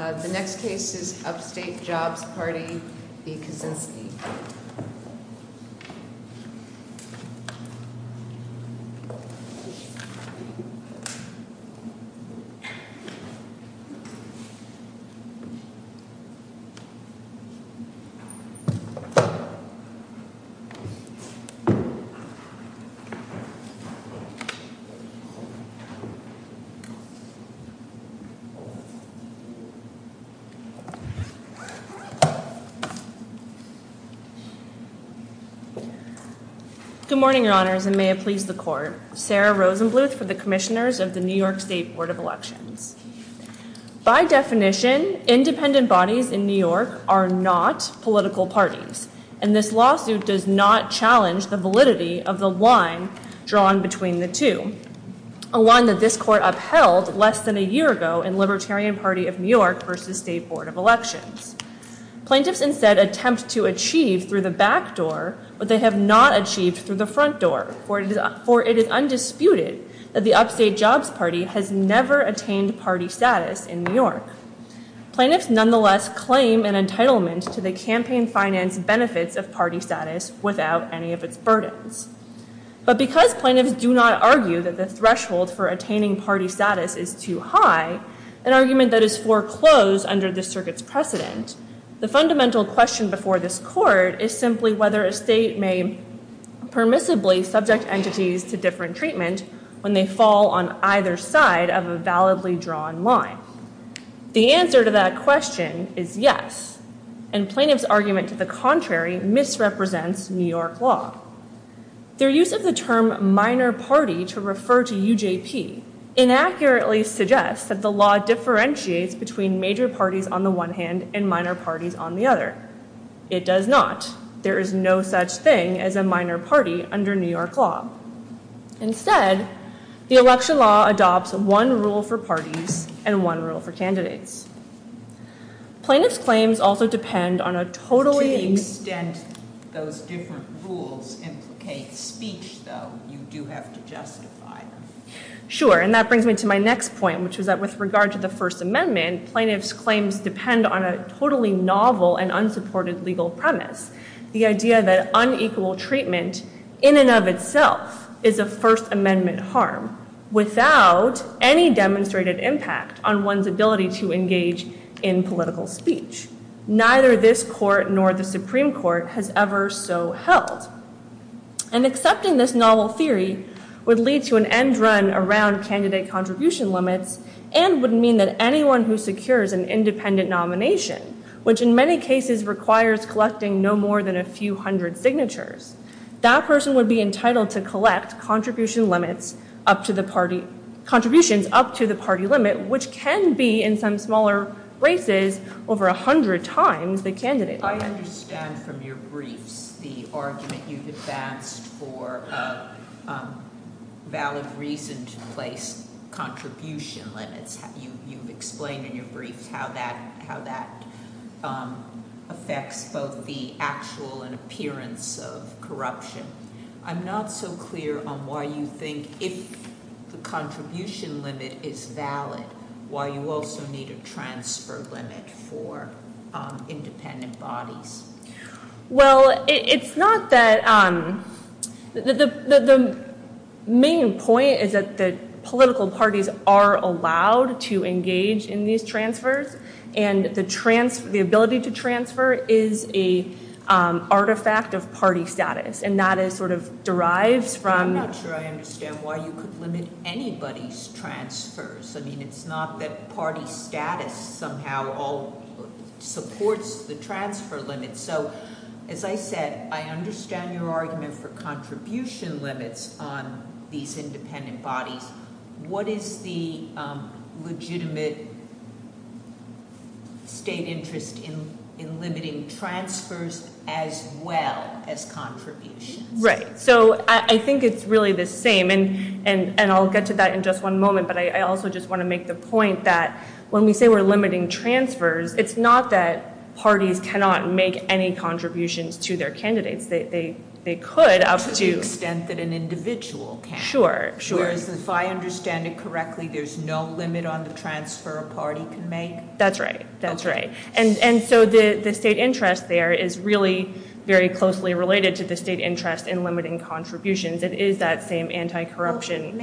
The next case is Upstate Jobs Party v. Kosinski. Good morning, Your Honors, and may it please the Court. Sarah Rosenbluth for the Commissioners of the New York State Board of Elections. By definition, independent bodies in New York are not political parties, and this lawsuit does not challenge the validity of the line drawn between the two, a line that this Court upheld less than a year ago in Libertarian Party of New York v. State Board of Elections. Plaintiffs instead attempt to achieve through the back door, but they have not achieved through the front door, for it is undisputed that the Upstate Jobs Party has never attained party status in New York. Plaintiffs nonetheless claim an entitlement to the campaign finance benefits of party status without any of its burden. But because plaintiffs do not argue that the threshold for attaining party status is too high, an argument that is foreclosed under this circuit's precedent, the fundamental question before this Court is simply whether a state may permissibly subject entities to different treatment when they fall on either side of a validly drawn line. The answer to that question is yes, and plaintiffs' argument to the contrary misrepresents New York law. Their use of the term minor party to refer to UJT inaccurately suggests that the law differentiates between major parties on the one hand and minor parties on the other. It does not. There is no such thing as a minor party under New York law. Instead, the election law adopts one rule for parties and one rule for candidates. Plaintiffs' claims also depend on a totally... To the extent those different rules implicate speech, though, you do have to justify them. Sure, and that brings me to my next point, which is that with regard to the First Amendment, plaintiffs' claims depend on a totally novel and unsupported legal premise. The idea that unequal treatment in and of itself is a First Amendment harm without any demonstrated impact on one's ability to engage in political speech. Neither this Court nor the Supreme Court has ever so held. And accepting this novel theory would lead to an end run around candidate contribution limits and would mean that anyone who secures an independent nomination, which in many cases requires collecting no more than a few hundred signatures, that person would be entitled to collect contributions up to the party limit, which can be, in some smaller places, over a hundred times the candidate limit. I understand from your briefs the argument you discussed for a valid reason to place contribution limits. You've explained in your briefs how that affects both the actual and appearance of corruption. I'm not so clear on why you think if the contribution limit is valid, why you also need a transfer limit for independent bodies. Well, it's not that... The main point is that political parties are allowed to engage in these transfers and the ability to transfer is an artifact of party status. And that is sort of derived from... I'm not sure I understand why you would limit anybody's transfers. I mean, it's not that party status somehow supports the transfer limit. So, as I said, I understand your argument for contribution limits on these independent bodies. What is the legitimate state interest in limiting transfers as well as contributions? Right. So, I think it's really the same, and I'll get to that in just one moment, but I also just want to make the point that when we say we're limiting transfers, it's not that parties cannot make any contributions to their candidates. They could up to... To the extent that an individual can. Sure. If I understand it correctly, there's no limit on the transfer a party can make. That's right. That's right. And so the state interest there is really very closely related to the state interest in limiting contributions. It is that same anti-corruption...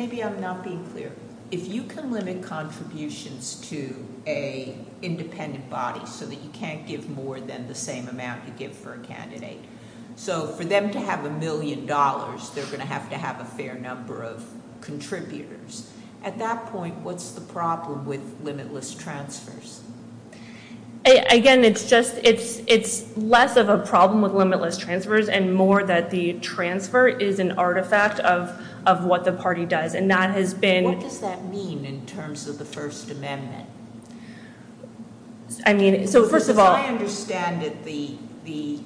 If you can limit contributions to an independent body so that you can't give more than the same amount you give for a candidate, so for them to have a million dollars, they're going to have to have a fair number of contributors. At that point, what's the problem with limitless transfers? Again, it's less of a problem with limitless transfers and more that the transfer is an artifact of what the party does. What does that mean in terms of the First Amendment? First of all... I understand that the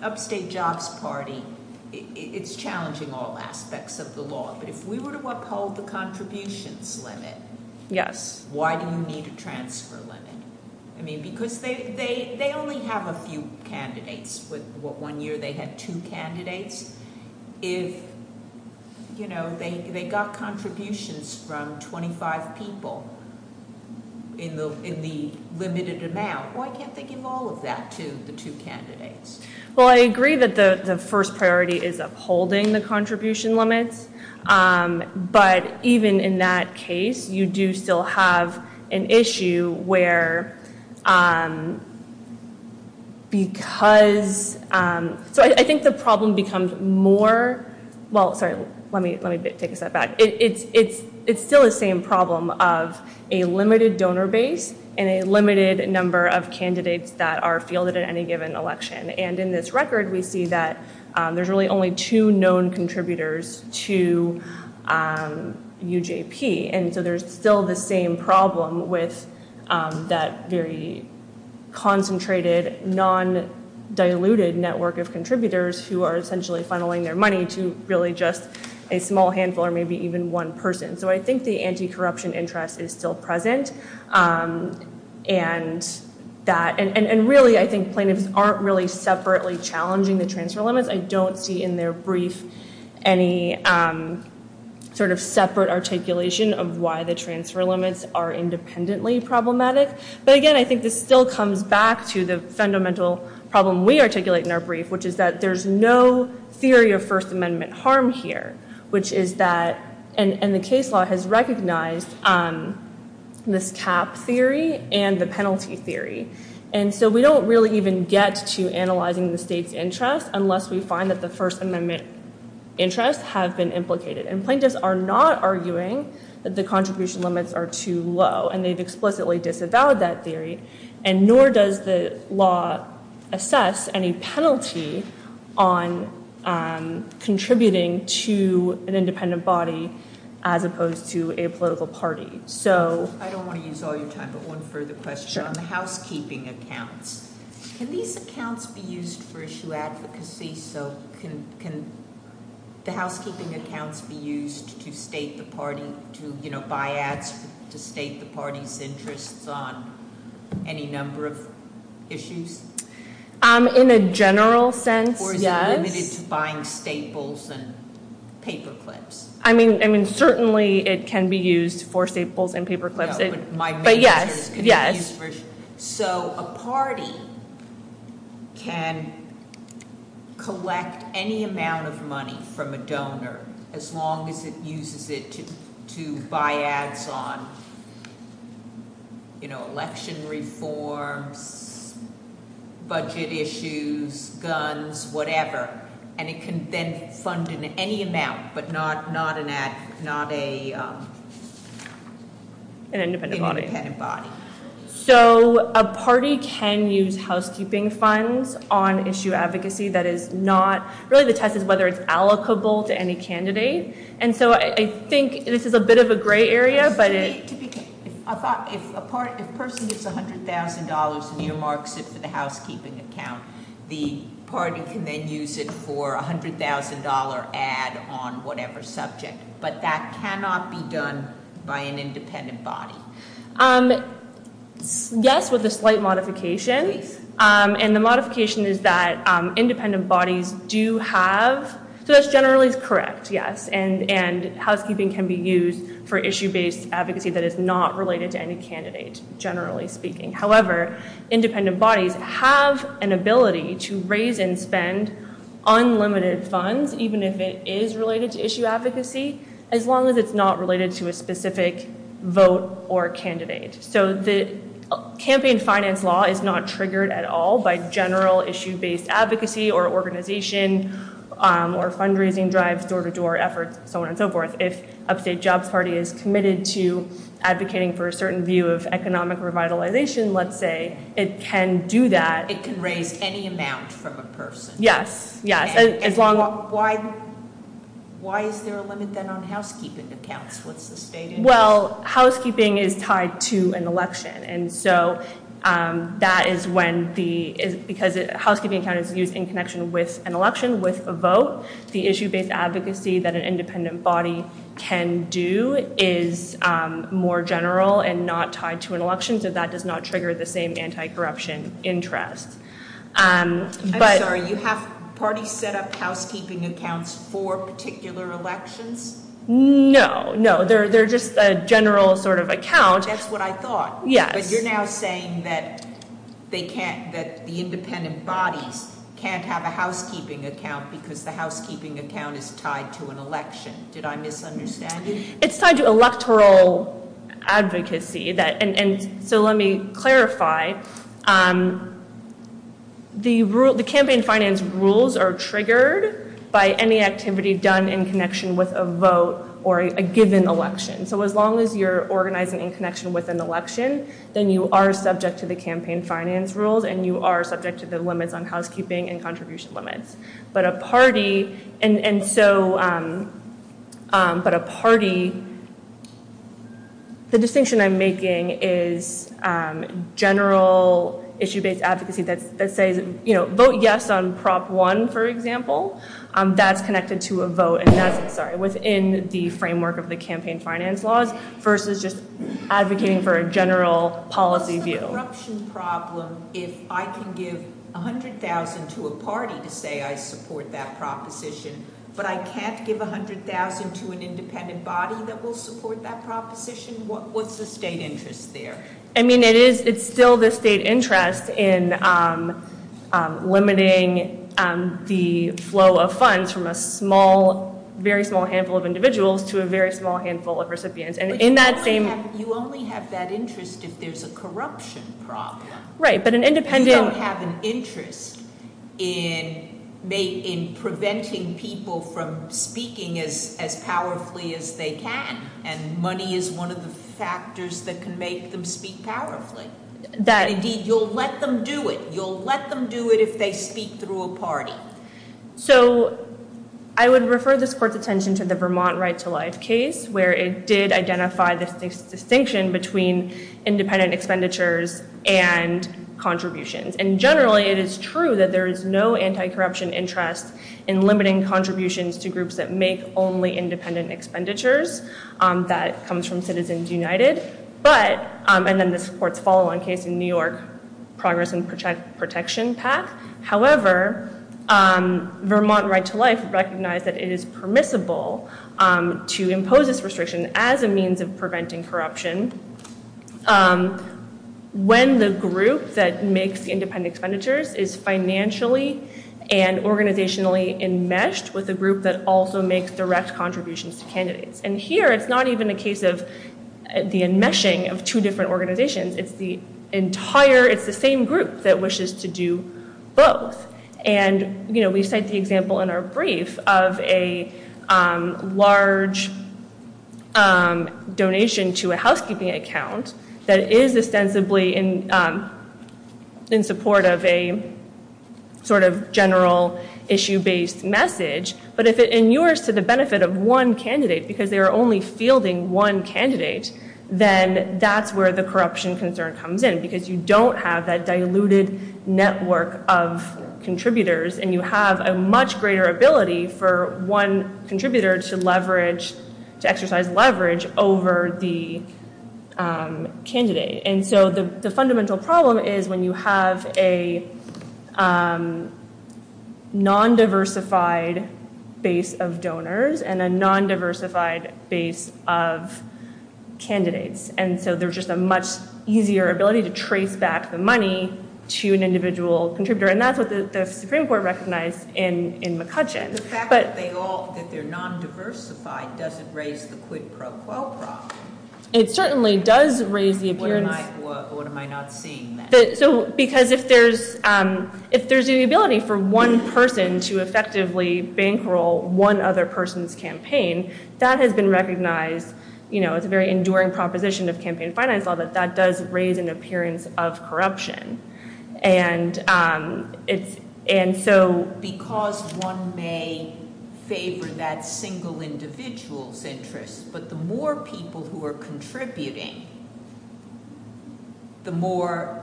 upstate jobs party is challenging all aspects of the law, but if we were to uphold the contributions limit, why do we need a transfer limit? Because they only have a few candidates. One year they had two candidates. They got contributions from 25 people in the limited amount. Why can't they give all of that to the two candidates? Well, I agree that the first priority is upholding the contribution limit, but even in that case, you do still have an issue where... I think the problem becomes more... Let me take a step back. It's still the same problem of a limited donor base and a limited number of candidates that are fielded in any given election. In this record, we see that there's really only two known contributors to UJP, and so there's still the same problem with that very concentrated, non-diluted network of contributors who are essentially funneling their money to really just a small handful or maybe even one person. So I think the anti-corruption interest is still present. And really, I think plaintiffs aren't really separately challenging the transfer limit. I don't see in their brief any sort of separate articulation of why the transfer limits are independently problematic. But again, I think this still comes back to the fundamental problem we articulate in our brief, which is that there's no theory of First Amendment harm here, which is that... And the case law has recognized this cap theory and the penalty theory. And so we don't really even get to analyzing the state's interest unless we find that the First Amendment interests have been implicated. And plaintiffs are not arguing that the contribution limits are too low, and they've explicitly disavowed that theory, and nor does the law assess any penalty on contributing to an independent body as opposed to a political party. So... I don't want to use all your time, but one further question on the housekeeping account. Can these accounts be used for issue advocacy? So can the housekeeping accounts be used to state the party's interests on any number of issues? In a general sense, yes. Or is it limited to buying staples and paperclips? I mean, certainly it can be used for staples and paperclips. But yes, yes. So a party can collect any amount of money from a donor as long as it uses it to buy ads on, you know, election reform, budget issues, guns, whatever. And it can then fund in any amount but not an independent body. So a party can use housekeeping funds on issue advocacy that is not really dependent on whether it's allocable to any candidate. And so I think this is a bit of a gray area, but it... If a person gets $100,000 and you mark this to the housekeeping account, the party can then use it for a $100,000 ad on whatever subject. But that cannot be done by an independent body. Yes, with a slight modification. And the modification is that independent bodies do have... So that's generally correct, yes. And housekeeping can be used for issue-based advocacy that is not related to any candidate, generally speaking. However, independent bodies have an ability to raise and spend unlimited funds, even if it is related to issue advocacy, as long as it's not related to a specific vote or candidate. So the campaign finance law is not triggered at all by general issue-based advocacy or organization or fundraising drives, door-to-door efforts, so on and so forth. If a state job party is committed to advocating for a certain view of economic revitalization, let's say, it can do that. It can raise any amount from a person. Yes, yes. Why is there a limit then on housekeeping accounts with the state? Well, housekeeping is tied to an election. And so that is when the... Because a housekeeping account is used in connection with an election, with a vote, the issue-based advocacy that an independent body can do is more general and not tied to an election, so that does not trigger the same anti-corruption interest. I'm sorry. You have parties set up housekeeping accounts for particular elections? No, no. They're just a general sort of account. That's what I thought. Yes. But you're now saying that the independent body can't have a housekeeping account because the housekeeping account is tied to an election. Did I misunderstand you? It's tied to electoral advocacy. So let me clarify. The campaign finance rules are triggered by any activity done in connection with a vote or a given election. So as long as you're organizing in connection with an election, then you are subject to the campaign finance rules, and you are subject to the limits on housekeeping and contribution limits. But a party... The distinction I'm making is general issue-based advocacy that says, you know, vote yes on Prop 1, for example, that's connected to a vote, and that's within the framework of the campaign finance laws versus just advocating for a general policy view. The corruption problem is I can give $100,000 to a party to say I support that proposition, but I can't give $100,000 to an independent body that will support that proposition. What's the state interest there? I mean, it's still the state interest in limiting the flow of funds from a small, very small handful of individuals to a very small handful of recipients. And in that same... You only have that interest if there's a corruption problem. Right, but an independent... ...in preventing people from speaking as powerfully as they can, and money is one of the factors that can make them speak powerfully. That, indeed, you'll let them do it. You'll let them do it if they speak through a party. So I would refer this court's attention to the Vermont Right to Life case, where it did identify this distinction between independent expenditures and contributions. And generally, it is true that there is no anti-corruption interest in limiting contributions to groups that make only independent expenditures that comes from Citizens United, and then this court's follow-on case in New York's Progress and Protection Act. However, Vermont Right to Life recognized that it is permissible to impose this restriction as a means of preventing corruption when the group that makes independent expenditures is financially and organizationally enmeshed with a group that also makes the rest contributions to candidates. And here, it's not even a case of the enmeshing of two different organizations. It's the entire... It's the same group that wishes to do both. And, you know, we cite the example in our brief of a large donation to a housekeeping account that is ostensibly in support of a sort of general issue-based message. But if it inures to the benefit of one candidate because they're only fielding one candidate, then that's where the corruption concern comes in because you don't have that diluted network of contributors, and you have a much greater ability for one contributor to exercise leverage over the candidate. And so the fundamental problem is when you have a non-diversified base of donors and a non-diversified base of candidates. And so there's just a much easier ability to trace back the money to an individual contributor. And that's what the Supreme Court recognized in McCutcheon. The fact that they all... that they're non-diversified doesn't raise the quid pro quo problem. It certainly does raise the... Or am I not seeing that? Because if there's the ability for one person to effectively bankroll one other person's campaign, that has been recognized, you know, as a very enduring proposition of campaign finance law, that that does raise an appearance of corruption. And so because one may favor that single individual's interest, but the more people who are contributing, the more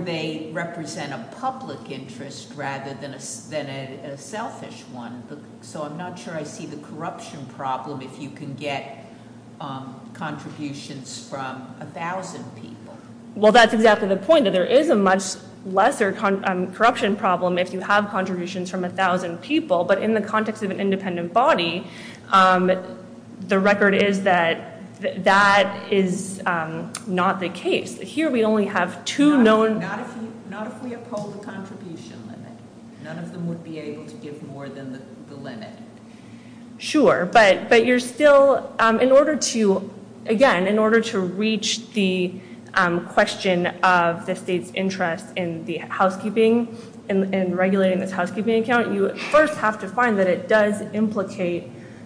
they represent a public interest rather than a selfish one. So I'm not sure I see the corruption problem if you can get contributions from 1,000 people. Well, that's exactly the point, that there is a much lesser corruption problem if you have contributions from 1,000 people. But in the context of an independent body, the record is that that is not the case. Here we only have two known... Not if we oppose the contribution limit. None of them would be able to give more than the limit. Sure, but you're still... Again, in order to reach the question of the state's interest in the housekeeping and regulating the housekeeping account, you first have to find that it does implicate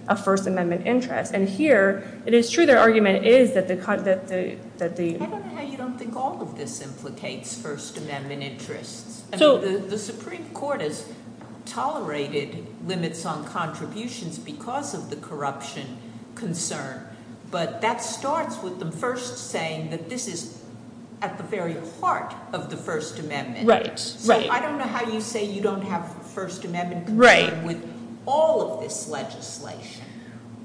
a First Amendment interest. And here, it is true their argument is that the... I don't know how you don't think all of this implicates First Amendment interest. The Supreme Court has tolerated limits on contributions because of the corruption concern, but that starts with the first saying that this is at the very heart of the First Amendment interest. I don't know how you say you don't have First Amendment interest with all of this legislation.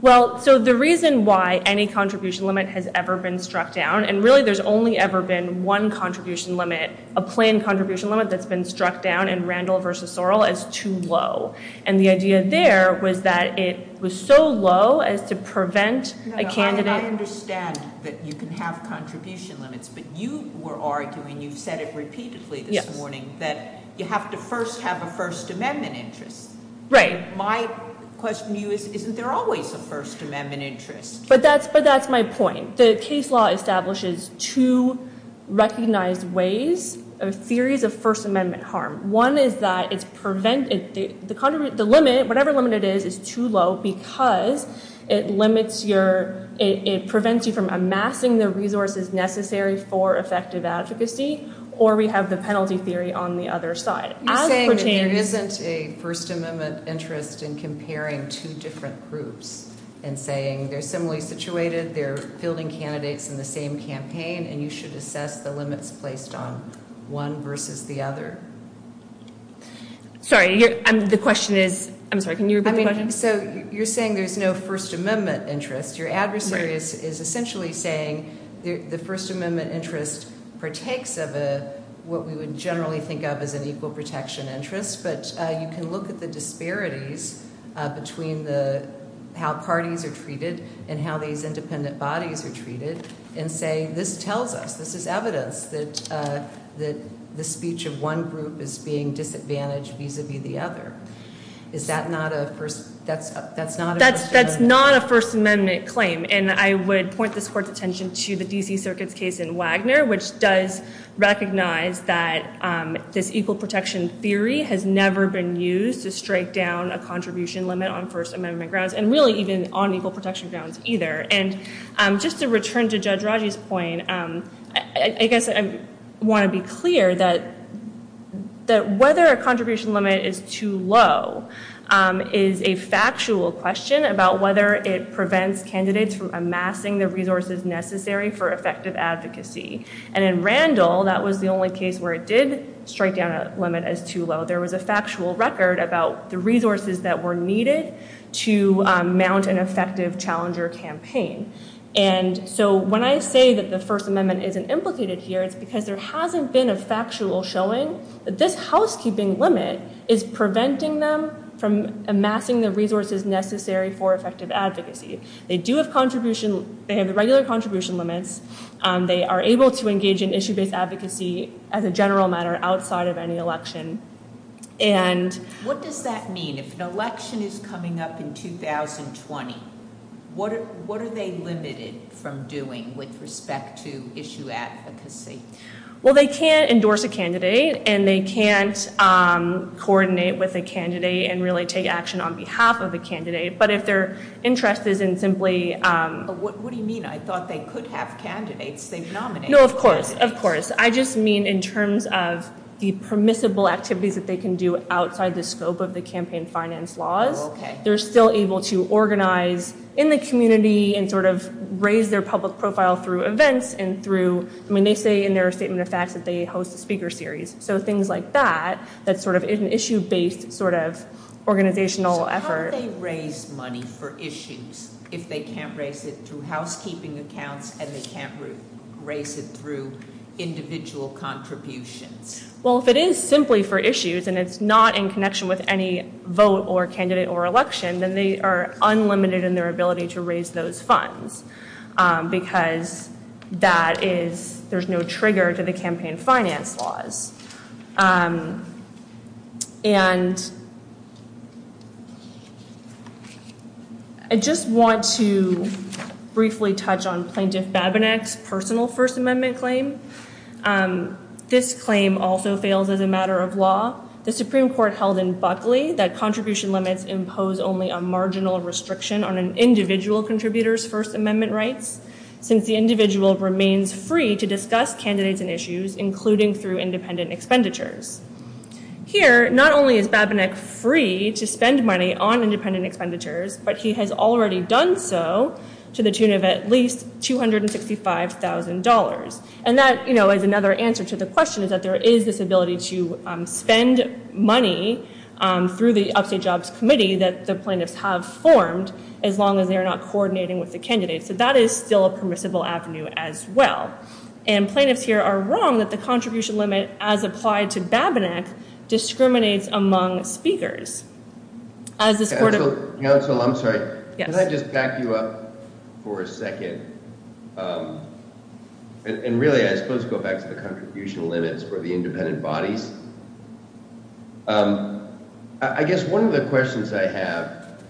Well, so the reason why any contribution limit has ever been struck down, and really there's only ever been one contribution limit, a plain contribution limit that's been struck down in Randall v. Sorrell, is too low. And the idea there was that it was so low as to prevent a candidate... I understand that you can have contribution limits, but you were arguing, you've said it repeatedly this morning, that you have to first have a First Amendment interest. My question to you is, isn't there always a First Amendment interest? But that's my point. The case law establishes two recognized ways, a series of First Amendment harm. One is that it's preventing... The limit, whatever limit it is, is too low because it limits your... It prevents you from amassing the resources necessary for effective advocacy, or we have the penalty theory on the other side. You're saying that there isn't a First Amendment interest in comparing two different groups and saying they're similarly situated, they're fielding candidates in the same campaign, and you should assess the limits placed on one versus the other. Sorry, the question is... I'm sorry, can you repeat the question? So you're saying there's no First Amendment interest. Your adversary is essentially saying the First Amendment interest partakes of a... what we would generally think of as an equal protection interest, but you can look at the disparities between how parties are treated and how these independent bodies are treated and say, this tells us, this is evidence that the speech of one group is being disadvantaged vis-a-vis the other. Is that not a First Amendment... That's not a First Amendment claim, and I would point this towards attention to the D.C. Circuit's case in Wagner, which does recognize that this equal protection theory has never been used to strike down a contribution limit on First Amendment grounds, and really even on equal protection grounds either. And just to return to Judge Raji's point, I guess I want to be clear that whether a contribution limit is too low is a factual question about whether it prevents candidates from amassing the resources necessary for effective advocacy. And in Randall, that was the only case where it did strike down a limit as too low. There was a factual record about the resources that were needed to mount an effective challenger campaign. And so when I say that the First Amendment isn't implicated here, it's because there hasn't been a factual showing that this housekeeping limit is preventing them from amassing the resources necessary for effective advocacy. They do have contribution... They have a regular contribution limit. They are able to engage in issue-based advocacy as a general matter outside of any election. And... What does that mean? If an election is coming up in 2020, what are they limited from doing with respect to issue advocacy? Well, they can't endorse a candidate and they can't coordinate with a candidate and really take action on behalf of a candidate. But if they're interested in simply... What do you mean? I thought they could have candidates. No, of course. Of course. I just mean in terms of the permissible activities that they can do outside the scope of the campaign finance laws. Okay. They're still able to organize in the community and sort of raise their public profile through events and through... I mean, they say in their statement of fact that they host speaker series. So things like that, that sort of is an issue-based sort of organizational effort. How do they raise money for issues if they can't raise it through housekeeping accounts and they can't raise it through individual contributions? Well, if it is simply for issues and it's not in connection with any vote or candidate or election, then they are unlimited in their ability to raise those funds. Because that is... There's no trigger to the campaign finance laws. And... I just want to briefly touch on Plaintiff Babinec's personal First Amendment claim. This claim also failed as a matter of law. The Supreme Court held in Buckley that contribution limits impose only a marginal restriction on an individual contributor's First Amendment rights since the individual remains free to discuss candidates and issues, including through independent expenditures. Here, not only is Babinec free to spend money on independent expenditures, but he has already done so to the tune of at least $265,000. And that, you know, is another answer to the question is that there is this ability to spend money through the update jobs committee that the plaintiffs have formed as long as they're not coordinating with the candidates. So that is still a permissible avenue as well. And plaintiffs here are wrong that the contribution limit, as applied to Babinec, discriminates among speakers. As a sort of... Counsel, I'm sorry. Can I just back you up for a second? And really, I suppose to go back to the contribution limits for the independent bodies. I guess one of the questions I have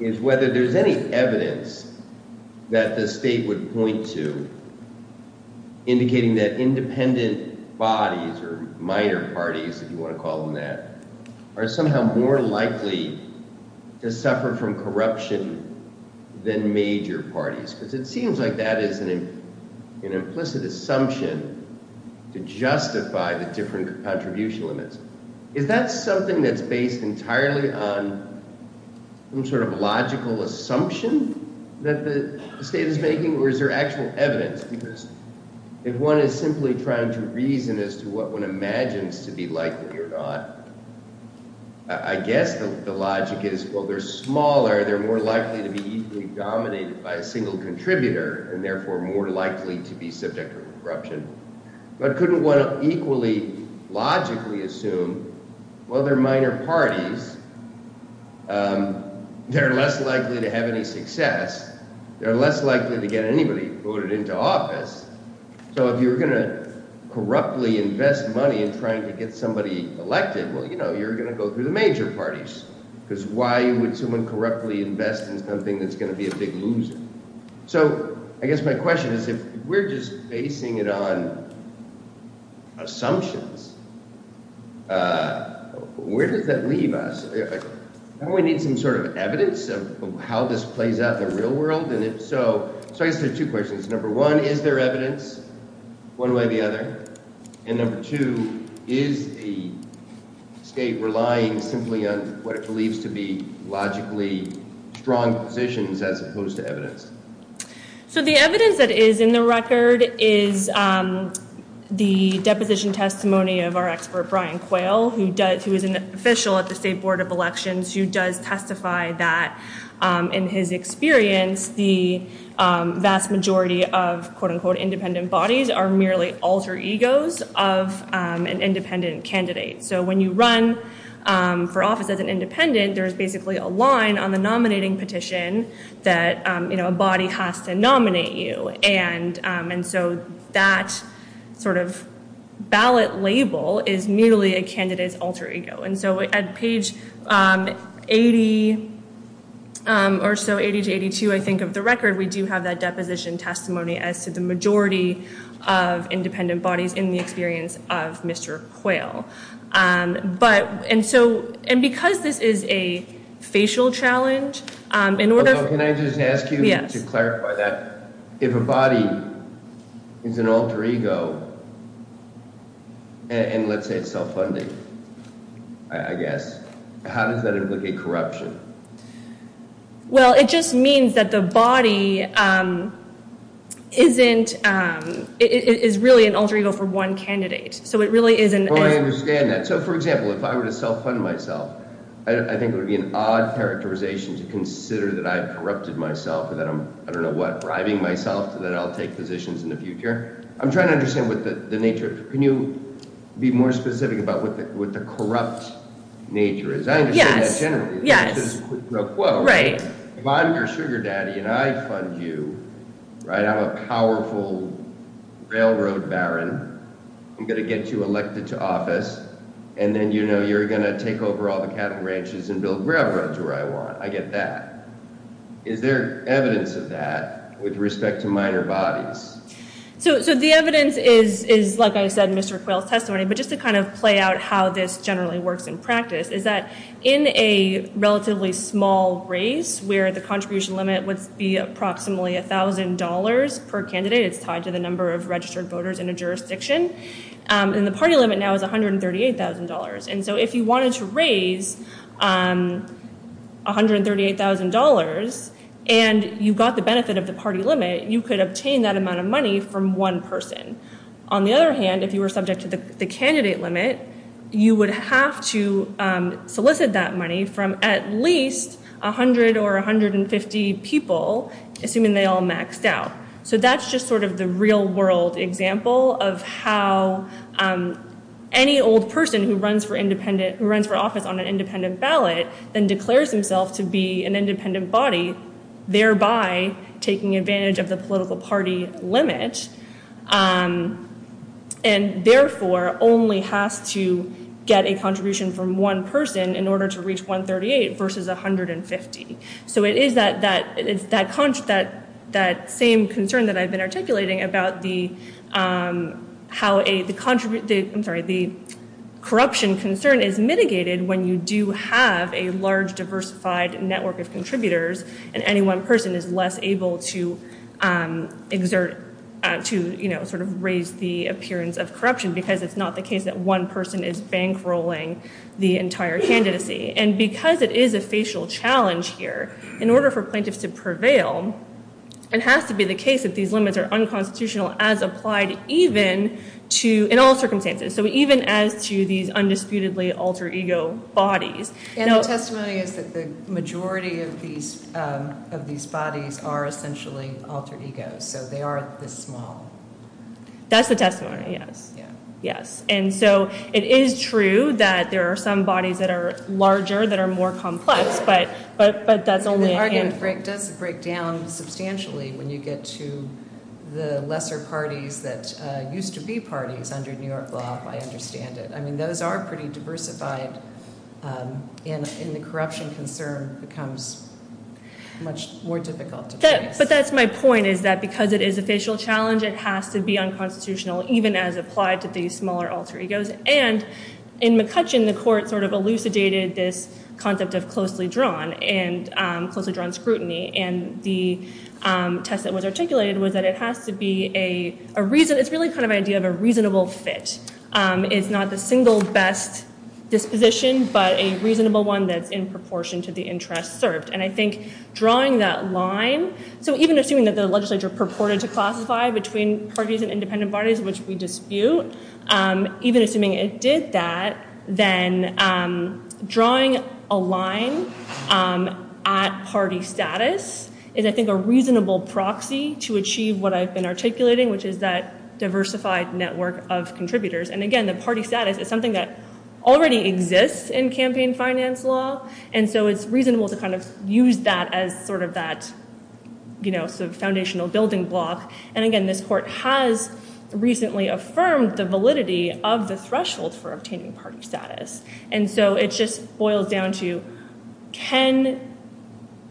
is whether there's any evidence that the state would point to indicating that independent bodies, or minor parties, if you want to call them that, are somehow more likely to suffer from corruption than major parties. Because it seems like that is an implicit assumption to justify the different contribution limits. Is that something that's based entirely on some sort of logical assumption that the state is making, or is there actual evidence? Because if one is simply trying to reason as to what one imagines to be likely or not, I guess the logic is, well, they're smaller, they're more likely to be easily dominated by a single contributor, and therefore more likely to be subject to corruption. But couldn't one equally logically assume, well, they're minor parties, they're less likely to have any success, they're less likely to get anybody voted into office, so if you're going to corruptly invest money in trying to get somebody elected, well, you know, you're going to go to the major parties. Because why would someone corruptly invest in something that's going to be a big loser? So, I guess my question is, if we're just basing it on assumptions, where does that leave us? Don't we need some sort of evidence of how this plays out in the real world? And if so, so I guess there's two questions. Number one, is there evidence? What about the other? And number two, is the state relying simply on what it believes to be So the evidence that is in the record is the deposition testimony of our expert Brian Quayle, who is an official at the State Board of Elections, who does testify that, in his experience, the vast majority of quote-unquote independent bodies are merely alter egos of an independent candidate. So when you run for office as an independent, there's basically a line on the nominating petition that a body has to nominate you. And so that sort of ballot label is merely a candidate's alter ego. And so at page 80, or so, 80 to 82, I think, of the record, we do have that deposition testimony as to the majority of independent bodies in the experience of Mr. Quayle. And so, and because this is a facial challenge, in order... Can I just ask you to clarify that? If a body is an alter ego, and let's say it's self-funding, I guess, how does that indicate corruption? Well, it just means that the body isn't, is really an alter ego for one candidate. So it really isn't... Oh, I understand that. So, for example, if I were to self-fund myself, I think it would be an odd characterization to consider that I've corrupted myself, or that I'm, I don't know what, bribing myself so that I'll take positions in the future. I'm trying to understand what the nature is. Can you be more specific about what the corrupt nature is? Yeah, yeah. Right. If I'm your sugar daddy and I fund you, right, I'm a powerful railroad baron, I'm gonna get you elected to office, and then you know you're gonna take over all the cattle ranches and build graveyards where I want. I get that. Is there evidence of that with respect to minor bodies? So the evidence is, like I said, Mr. Quayle's testimony, but just to kind of play out how this generally works in practice, is that in a relatively small race, where the contribution limit would be approximately $1,000 per candidate, it's tied to the number of registered voters in a jurisdiction, and the party limit now is $138,000. And so if you wanted to raise $138,000 and you got the benefit of the party limit, you could obtain that amount of money from one person. On the other hand, if you were subject to the candidate limit, you would have to solicit that money from at least 100 or 150 people, assuming they all maxed out. So that's just sort of the real world example of how any old person who runs for office on an independent ballot and declares himself to be an independent body, thereby taking advantage of the political party limit, and therefore only has to get a contribution from one person in order to reach $138,000 versus $150,000. So it is that same concern that I've been articulating about how the corruption concern is mitigated when you do have a large, diversified network of contributors and any one person is less able to raise the appearance of corruption because it's not the case that one person is bankrolling the entire candidacy. And because it is a facial challenge here, in order for plaintiffs to prevail, it has to be the case that these limits are unconstitutional as applied in all circumstances, so even as to these undisputedly alter-ego bodies. And the testimony is that the majority of these bodies are essentially alter-egos, so they are the small. That's the testimony, yes. Yes. And so it is true that there are some bodies that are larger, that are more complex, but that's only a hint. It does break down substantially when you get to the lesser parties that used to be parties under New York law, I understand it. I mean, those are pretty diversified and the corruption concern becomes much more difficult. But that's my point, is that because it is a facial challenge, it has to be unconstitutional, even as applied to these smaller alter-egos. And in McCutcheon, the court sort of elucidated this concept of closely drawn, and closely drawn scrutiny, and the test that was articulated was that it has to be a reason, it's really kind of an idea of a reasonable fit. It's not the single best disposition, but a reasonable one that's in proportion to the interest served. And I think drawing that line, so even assuming that the legislature purported to classify between parties and independent bodies, which we dispute, even assuming it did that, then drawing a line at party status is I think a reasonable proxy to achieve what I've been articulating, which is that diversified network of contributors. And again, the party status is something that already exists in campaign finance law, and so it's reasonable to kind of use that as sort of that foundational building block. And again, this court has recently affirmed the validity of the thresholds for obtaining party status. And so it just boils down to, can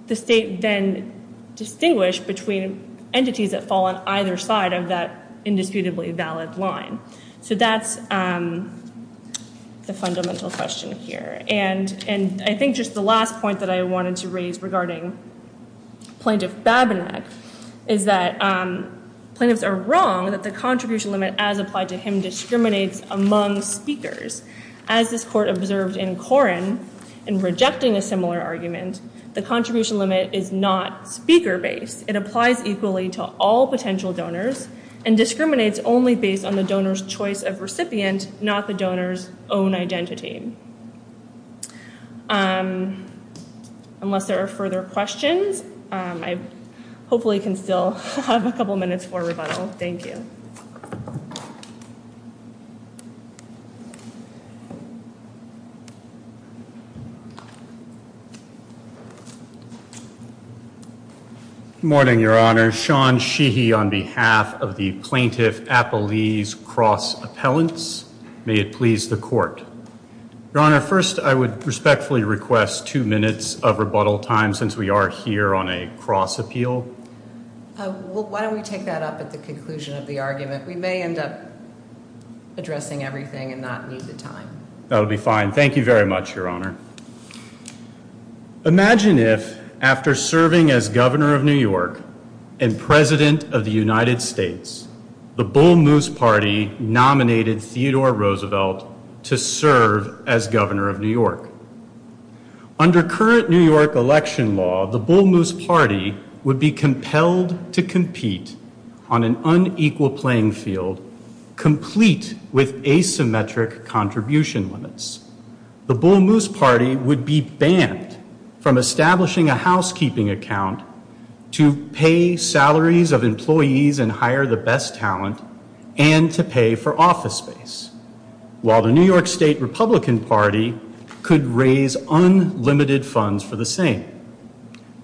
the state then distinguish between entities that fall on either side of that indisputably valid line? So that's the fundamental question here. And I think just the last point that I wanted to raise regarding plaintiff's fab in that is that plaintiffs are wrong in that the contribution limit as applied to him discriminates among speakers. As this court observed in Koren, in rejecting a similar argument, the contribution limit is not speaker-based. It applies equally to all potential donors and discriminates only based on the donor's choice of recipient, not the donor's own identity. Unless there are further questions, I hopefully can still have a couple minutes for rebuttal. Thank you. Good morning, Your Honor. Sean Sheehy on behalf of the Plaintiff-Appellees Cross Appellants. May it please the court. Your Honor, first I would respectfully request two minutes of rebuttal time since we are here on a cross appeal. Why don't we take that up at the conclusion of the argument. We may end up addressing everything and not need the time. That would be fine. Thank you very much, Your Honor. Imagine if after serving as Governor of New York and President of the United States, the Bull Moose Party nominated Theodore Roosevelt to serve as Governor of New York. Under current New York election law, the Bull Moose Party would be compelled to compete on an unequal playing field complete with asymmetric contribution limits. The Bull Moose Party would be banned from establishing a housekeeping account to pay salaries of employees and hire the best talent and to pay for office space. While the New York State Republican Party could raise unlimited funds for the same.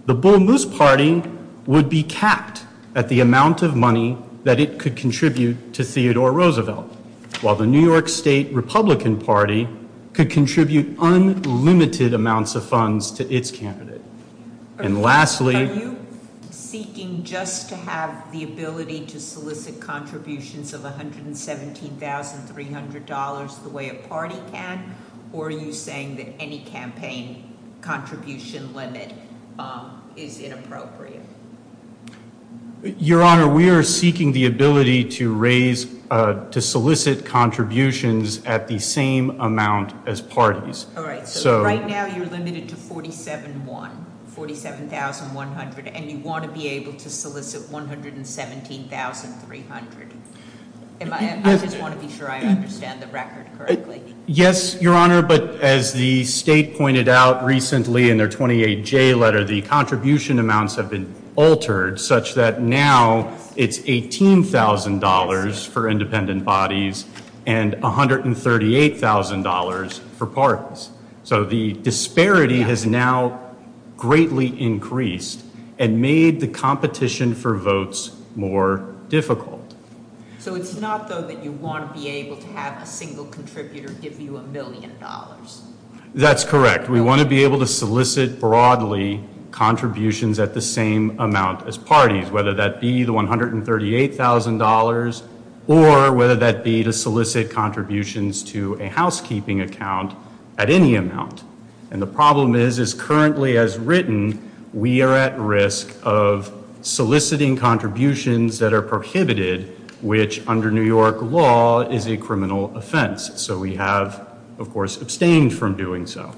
The Bull Moose Party would be capped at the amount of money that it could contribute to Theodore Roosevelt. While the New York State Republican Party could contribute unlimited amounts of funds to its candidate. And lastly... Are you seeking just to have the ability to solicit contributions of $117,300 the way a party can? Or are you saying that any campaign contribution limit is inappropriate? Your Honor, we are seeking the ability to raise, to solicit contributions at the same amount as parties. Alright, so right now you're limited to $47,100 and you want to be able to solicit $117,300. I just want to be sure I understand the record correctly. Yes, Your Honor, but as the State pointed out recently in their 28J letter, the contribution amounts have been altered such that now it's $18,000 for independent bodies and $138,000 for parties. So the disparity has now greatly increased and made the competition for votes more difficult. So it's not so that you want to be able to have a single contributor give you a million dollars? That's correct. We want to be able to solicit broadly contributions at the same amount as parties, whether that be the $138,000 or whether that be to solicit contributions to a housekeeping account at any amount. And the problem is, is currently as written, we are at risk of soliciting contributions that are prohibited, which under New York law is a criminal offense. So we have, of course, abstained from doing so.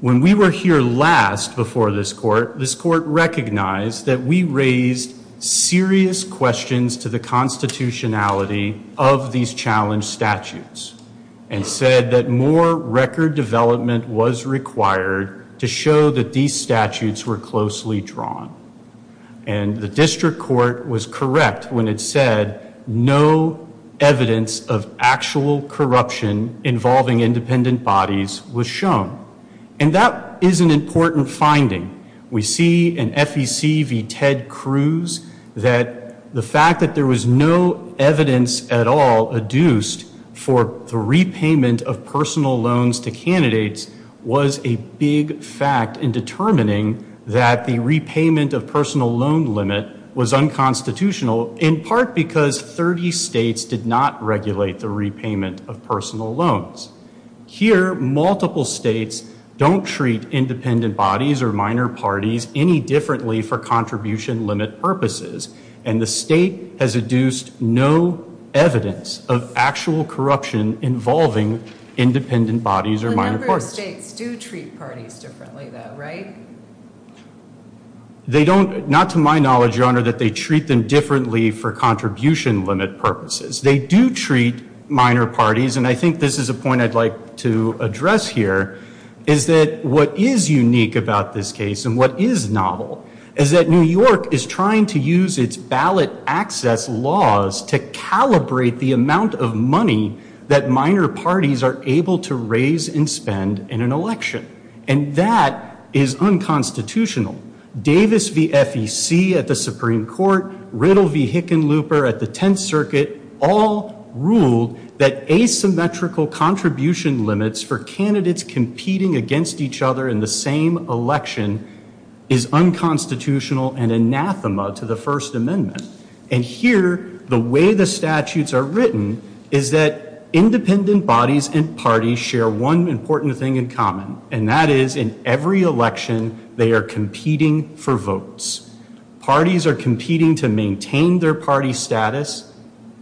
When we were here last before this court, this court recognized that we raised serious questions to the constitutionality of these challenge statutes and said that more record development was required to show that these statutes were closely drawn. And the district court was correct when it said no evidence of actual corruption involving independent bodies was shown. And that is an important finding. We see in FEC v. Ted Cruz that the fact that there was no evidence at all adduced for the repayment of personal loans to candidates was a big fact in determining that the repayment of personal loan limit was unconstitutional in part because 30 states did not regulate the repayment of personal loans. Here, multiple states don't treat independent bodies or minor parties any differently for contribution limit purposes. And the state has adduced no evidence of actual corruption involving independent bodies or minor parties. So other states do treat parties differently though, right? They don't, not to my knowledge, your honor, that they treat them differently for contribution limit purposes. They do treat minor parties and I think this is a point I'd like to address here is that what is unique about this case and what is novel is that New York is trying to use its ballot access laws to calibrate the amount of money that minor parties are able to raise and spend in an election. And that is unconstitutional. Davis v. FEC at the Supreme Court, Riddle v. Hickenlooper at the Tenth Circuit all ruled that asymmetrical contribution limits for candidates competing against each other in the same election is unconstitutional and anathema to the First Amendment. And here, the way the statutes are written is that independent bodies and parties share one important thing in common and that is in every election they are competing for votes. Parties are competing to maintain their party status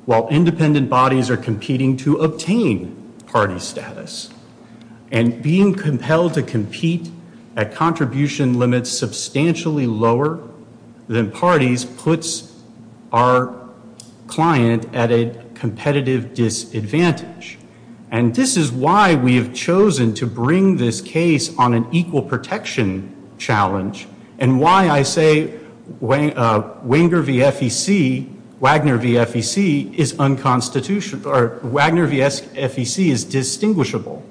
while independent bodies are competing to obtain party status. And being compelled to compete at contribution limits substantially lower than parties puts our client at a competitive disadvantage. And this is why we have chosen to bring this case on an equal protection challenge and why I say Wagner v. FEC is unconstitutional, or Wagner v. FEC is distinguishable.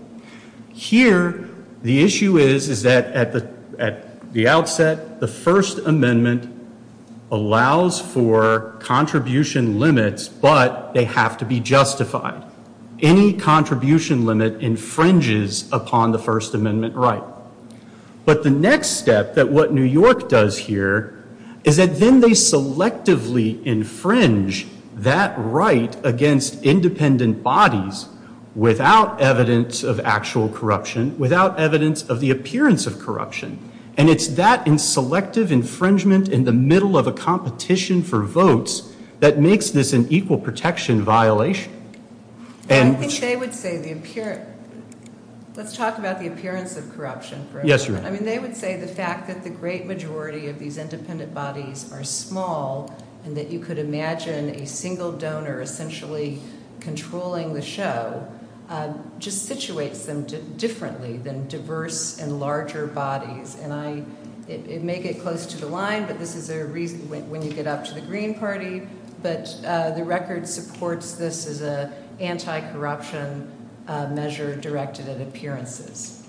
Here, the issue is that at the outset the First Amendment allows for contribution limits but they have to be justified. Any contribution limit infringes upon the First Amendment right. But the next step that what New York does here is that then they selectively infringe that right against independent bodies without evidence of actual corruption, without evidence of the appearance of corruption. And it's that selective infringement in the middle of a competition for votes that makes this an equal protection violation. I think they would say the appearance, let's talk about the appearance of corruption first. They would say the fact that the great majority of these independent bodies are small and that you could imagine a single donor essentially controlling the show just situates them differently than diverse and larger bodies. And it may get close to the line that this is a reason when you get up to the Green Party but the record supports this as an anti-corruption measure directed at appearances.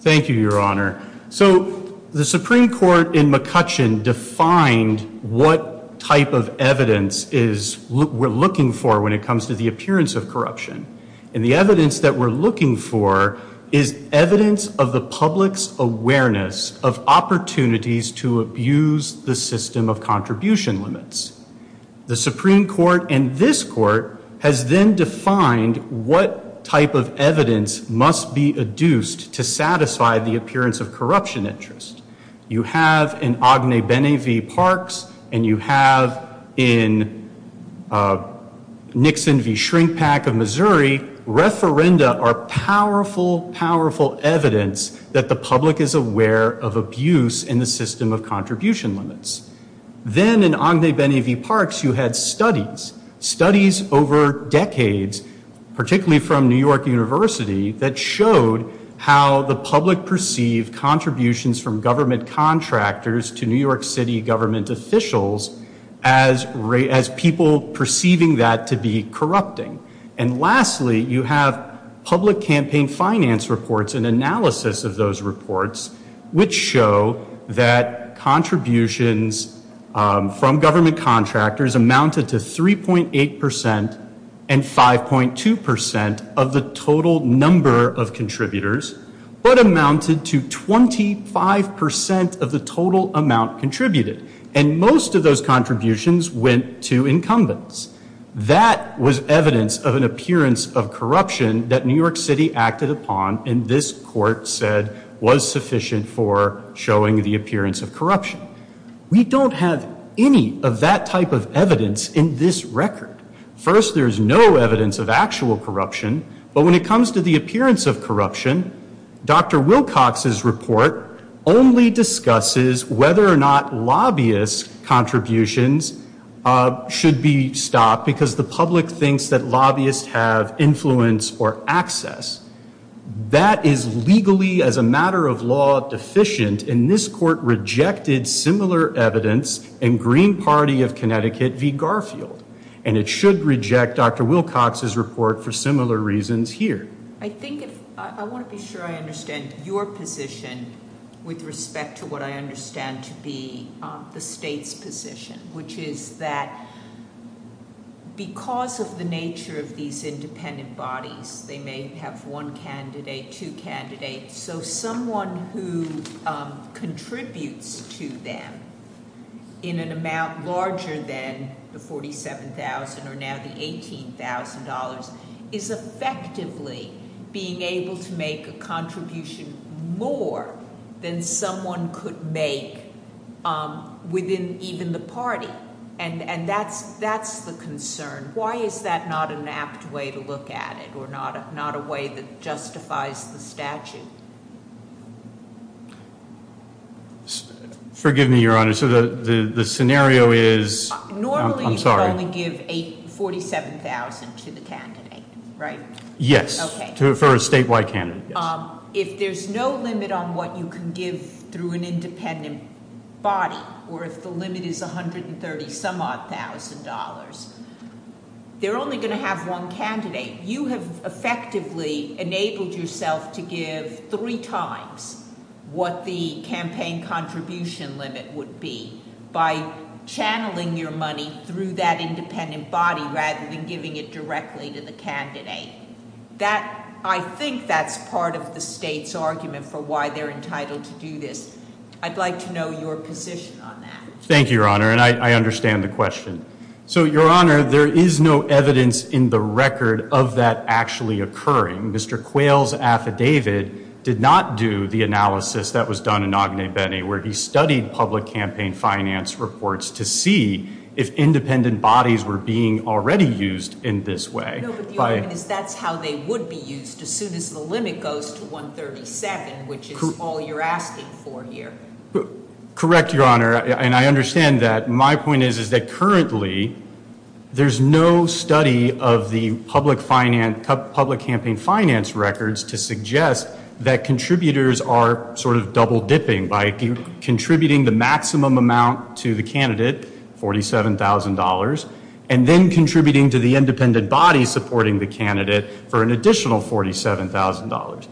Thank you, Your Honor. So the Supreme Court in McCutcheon defined what type of evidence we're looking for when it comes to the appearance of corruption. And the evidence that we're looking for is evidence of the public's awareness of opportunities to abuse the system of contribution limits. The Supreme Court and this court has then defined what type of evidence must be adduced to satisfy the appearance of corruption interest. You have in Agne Bene v. Parks and you have in Nixon v. Shrinkpack of Missouri referenda are powerful, powerful evidence that the public is aware of abuse in the system of contribution limits. Then in Agne Bene v. Parks, you had studies, studies over decades, particularly from New York University that showed how the public perceived contributions from government contractors to New York City government officials as people perceiving that to be corrupting. And lastly, you have public campaign finance reports and analysis of those reports which show that contributions from government contractors amounted to 3.8% and 5.2% of the total number of contributors but amounted to 25% of the total amount contributed. And most of those contributions went to incumbents. That was evidence of an appearance of corruption that New York City acted upon and this court said was sufficient for showing the appearance of corruption. We don't have any of that type of evidence in this record. First, there's no evidence of actual corruption but when it comes to the appearance of corruption, Dr. Wilcox's report only discusses whether or not lobbyist contributions should be stopped because the public thinks that lobbyists have influence or access. That is legally, as a matter of law, deficient and this court rejected similar evidence in Green Party of Connecticut v. Garfield and it should reject Dr. Wilcox's report for similar reasons here. I want to be sure I understand your position with respect to what I understand to be the state's position which is that because of the nature of these independent bodies, they may have one candidate, two candidates, so someone who contributes to them in an amount larger than the $47,000 or now the $18,000 is effectively being able to make a contribution more than someone could make within even the party and that's the concern. Why is that not an apt way to look at it or not a way that justifies the statute? Forgive me, Your Honor. The scenario is... Normally you only give $47,000 to the candidate, right? Yes, for a statewide candidate. If there's no limit on what you can give through an independent body or if the limit is $130,000, they're only going to have one candidate. You have effectively enabled yourself to give three times what the campaign contribution limit would be by channeling your money through that independent body rather than giving it directly to the candidate. I think that's part of the state's argument for why they're entitled to do this. I'd like to know your position on that. Thank you, Your Honor, and I understand the question. So, Your Honor, there is no evidence in the record of that actually occurring. Mr. Quayle's affidavit did not do the analysis that was done in Agne Bene where he studied public campaign finance reports to see if independent bodies were being already used in this way. That's how they would be used as soon as the limit goes to $137,000, which is all you're asking for here. Correct, Your Honor, and I understand that. My point is that currently there's no study of the public campaign finance records to suggest that contributors are sort of double-dipping by contributing the maximum amount to the candidate, $47,000, and then contributing to the independent body by supporting the candidate for an additional $47,000.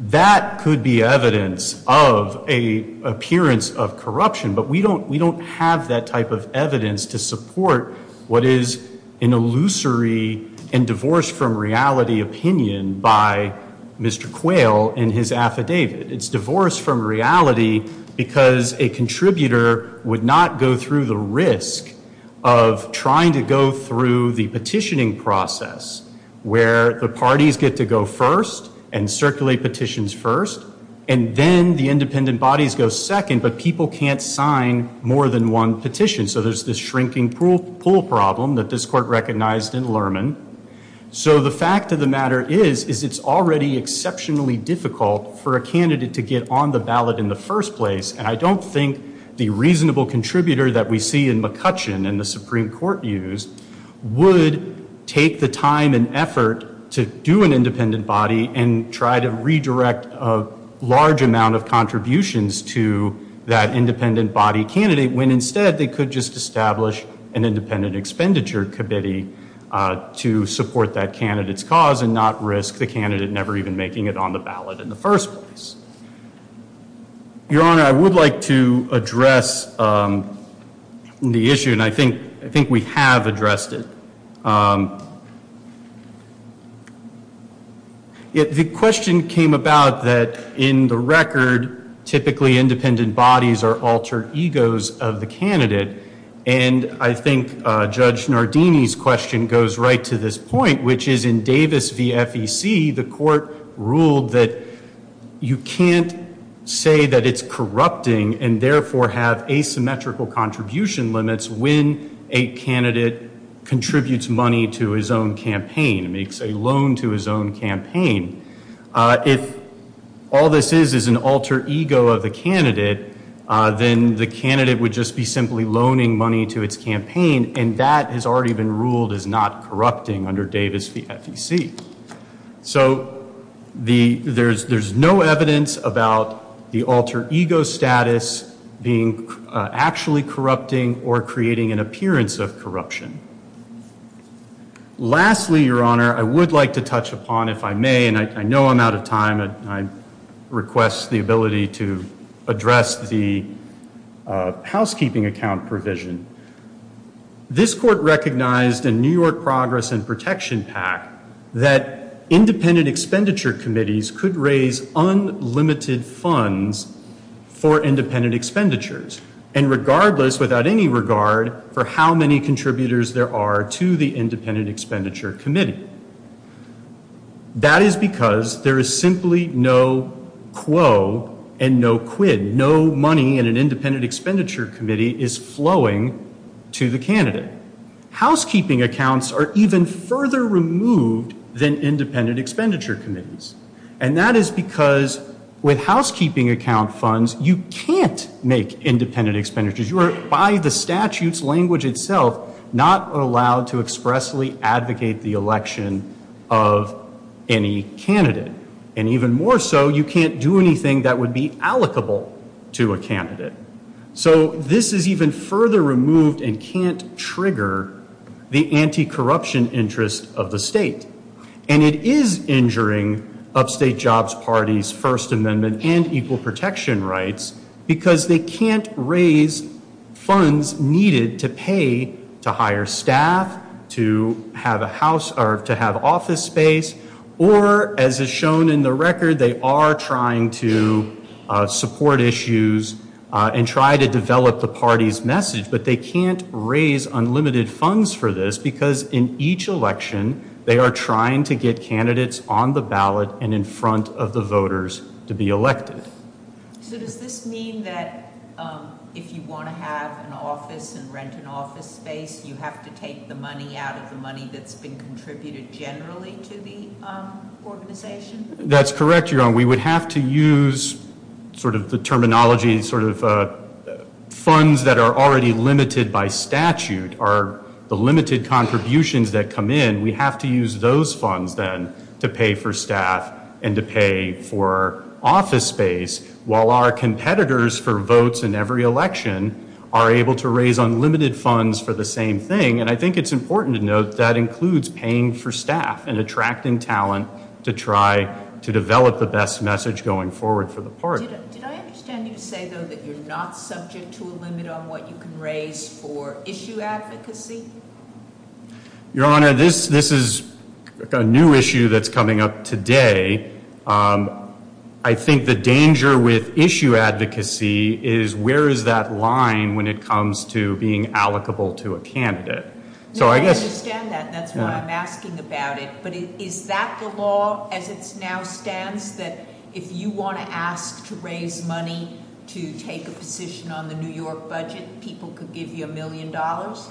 That could be evidence of an appearance of corruption, but we don't have that type of evidence to support what is an illusory and divorced-from-reality opinion by Mr. Quayle in his affidavit. It's divorced from reality because a contributor would not go through the risk of trying to go through the petitioning process where the parties get to go first and circulate petitions first, and then the independent bodies go second, but people can't sign more than one petition, so there's this shrinking pool problem that this court recognized in Lerman. So the fact of the matter is it's already exceptionally difficult for a candidate to get on the ballot in the first place, and I don't think the reasonable contributor that we see in McCutcheon in the Supreme Court use would take the time and effort to do an independent body and try to redirect a large amount of contributions to that independent body candidate when instead they could just establish an independent expenditure committee to support that candidate's cause and not risk the candidate never even making it on the ballot in the first place. Your Honor, I would like to address the issue, and I think we have addressed it. The question came about that in the record, typically independent bodies are altered egos of the candidate, and I think Judge Nardini's question goes right to this point, which is in Davis v. FEC, the court ruled that you can't say that it's corrupting and therefore have asymmetrical contribution limits when a candidate contributes money to his own campaign, makes a loan to his own campaign. If all this is is an alter ego of the candidate, then the candidate would just be simply loaning money to its campaign, and that has already been ruled as not corrupting under Davis v. FEC. So there's no evidence about the alter ego status being actually corrupting or creating an appearance of corruption. Lastly, Your Honor, I would like to touch upon, if I may, and I know I'm out of time, I request the ability to address the housekeeping account provision. This court recognized in New York Progress and Protection Act that independent expenditure committees could raise unlimited funds for independent expenditures, and regardless, without any regard for how many contributors there are to the independent expenditure committee. That is because there is simply no quo and no quid. No money in an independent expenditure committee is flowing to the candidate. Again, housekeeping accounts are even further removed than independent expenditure committees, and that is because with housekeeping account funds, you can't make independent expenditures. You are, by the statute's language itself, not allowed to expressly advocate the election of any candidate, and even more so, you can't do anything that would be allocable to a candidate. So this is even further removed and can't trigger the anti-corruption interest of the state, and it is injuring Upstate Jobs Party's First Amendment and equal protection rights because they can't raise funds needed to pay to hire staff, to have office space, or, as is shown in the record, they are trying to support issues and try to develop the party's message, but they can't raise unlimited funds for this because in each election, they are trying to get candidates on the ballot and in front of the voters to be elected. So does this mean that if you want to have an office and rent an office space, you have to take the money out of the money that's been contributed generally to the organization? That's correct, Your Honor. We would have to use sort of the terminology, sort of funds that are already limited by statute are the limited contributions that come in. We have to use those funds, then, to pay for staff and to pay for office space, while our competitors for votes in every election are able to raise unlimited funds for the same thing, and I think it's important to note that includes paying for staff and attracting talent to try to develop the best message going forward for the party. Did I understand you to say, though, that you're not subject to a limit on what you can raise for issue advocacy? Your Honor, this is a new issue that's coming up today. I think the danger with issue advocacy is where is that line when it comes to being allocable to a candidate? No, I understand that. That's what I'm asking about it, but is that the law as it now stands that if you want to ask to raise money to take a position on the New York budget, people could give you a million dollars?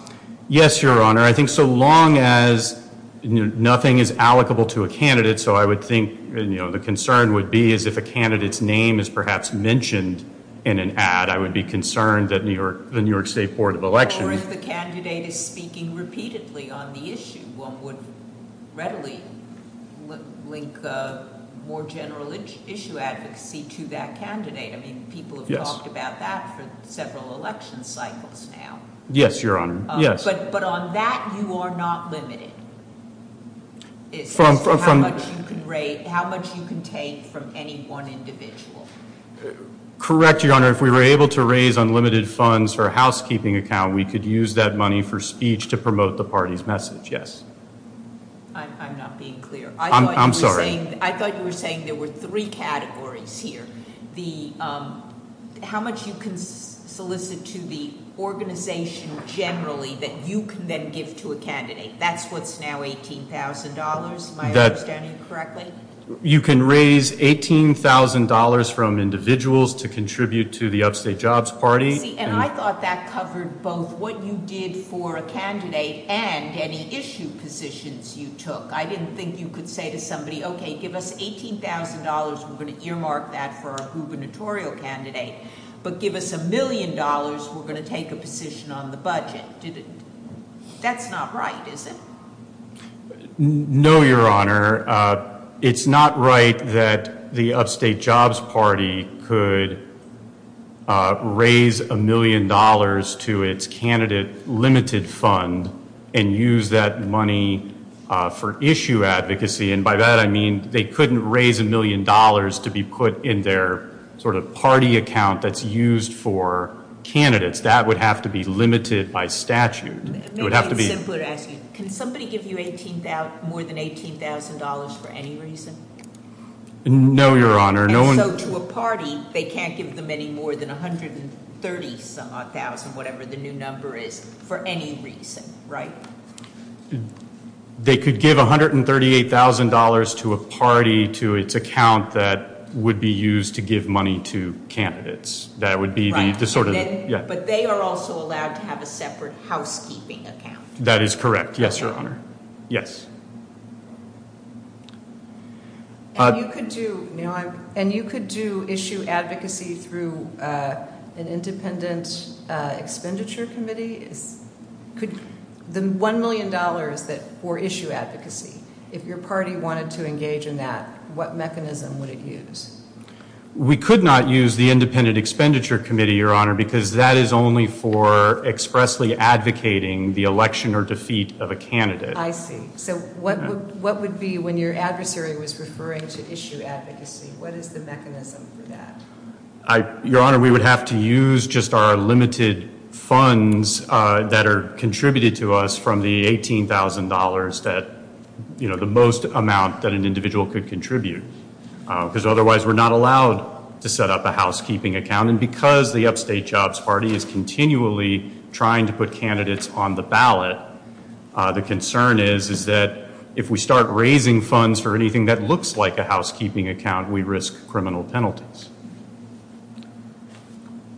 Yes, Your Honor. I think so long as nothing is allocable to a candidate, so I would think the concern would be is if a candidate's name is perhaps mentioned in an ad, I would be concerned that the New York State Board of Elections... Or if a candidate is speaking repeatedly on the issue, one would readily link more general issue advocacy to that candidate. I mean, people have talked about that for several election cycles now. Yes, Your Honor, yes. But on that, you are not limited. It's how much you can raise, how much you can take from any one individual. Correct, Your Honor. If we were able to raise unlimited funds for a housekeeping account, we could use that money for speech to promote the party's message, yes. I'm not being clear. I'm sorry. I thought you were saying there were three categories here. How much you can solicit to the organization generally that you can then give to a candidate. That's what's now $18,000. Am I understanding correctly? You can raise $18,000 from individuals to contribute to the upstate jobs party. And I thought that covered both what you did for a candidate and any issue positions you took. I didn't think you could say to somebody, okay, give us $18,000. We're going to earmark that for a gubernatorial candidate. But give us a million dollars. We're going to take a position on the budget. That's not right, is it? No, Your Honor. It's not right that the upstate jobs party could raise a million dollars to its candidate limited fund and use that money for issue advocacy. And by that, I mean they couldn't raise a million dollars to be put in their sort of party account that's used for candidates. That would have to be limited by statute. Can somebody give you more than $18,000 for any reason? No, Your Honor. So to a party, they can't give them any more than 130,000, whatever the new number is, for any reason, right? They could give $138,000 to a party to its account that would be used to give money to candidates. Right, but they are also allowed to have a separate housekeeping account. That is correct. Yes, Your Honor. Yes. And you could do issue advocacy through an independent expenditure committee? The $1 million for issue advocacy, if your party wanted to engage in that, what mechanism would it use? We could not use the independent expenditure committee, Your Honor, because that is only for expressly advocating the election or defeat of a candidate. I see. So what would be, when your adversary was referring to issue advocacy, what is the mechanism for that? Your Honor, we would have to use just our limited funds that are contributed to us from the $18,000, the most amount that an individual could contribute, because otherwise we are not allowed to set up a housekeeping account. And because the Upstate Jobs Party is continually trying to put candidates on the ballot, the concern is that if we start raising funds for anything that looks like a housekeeping account, we risk criminal penalties.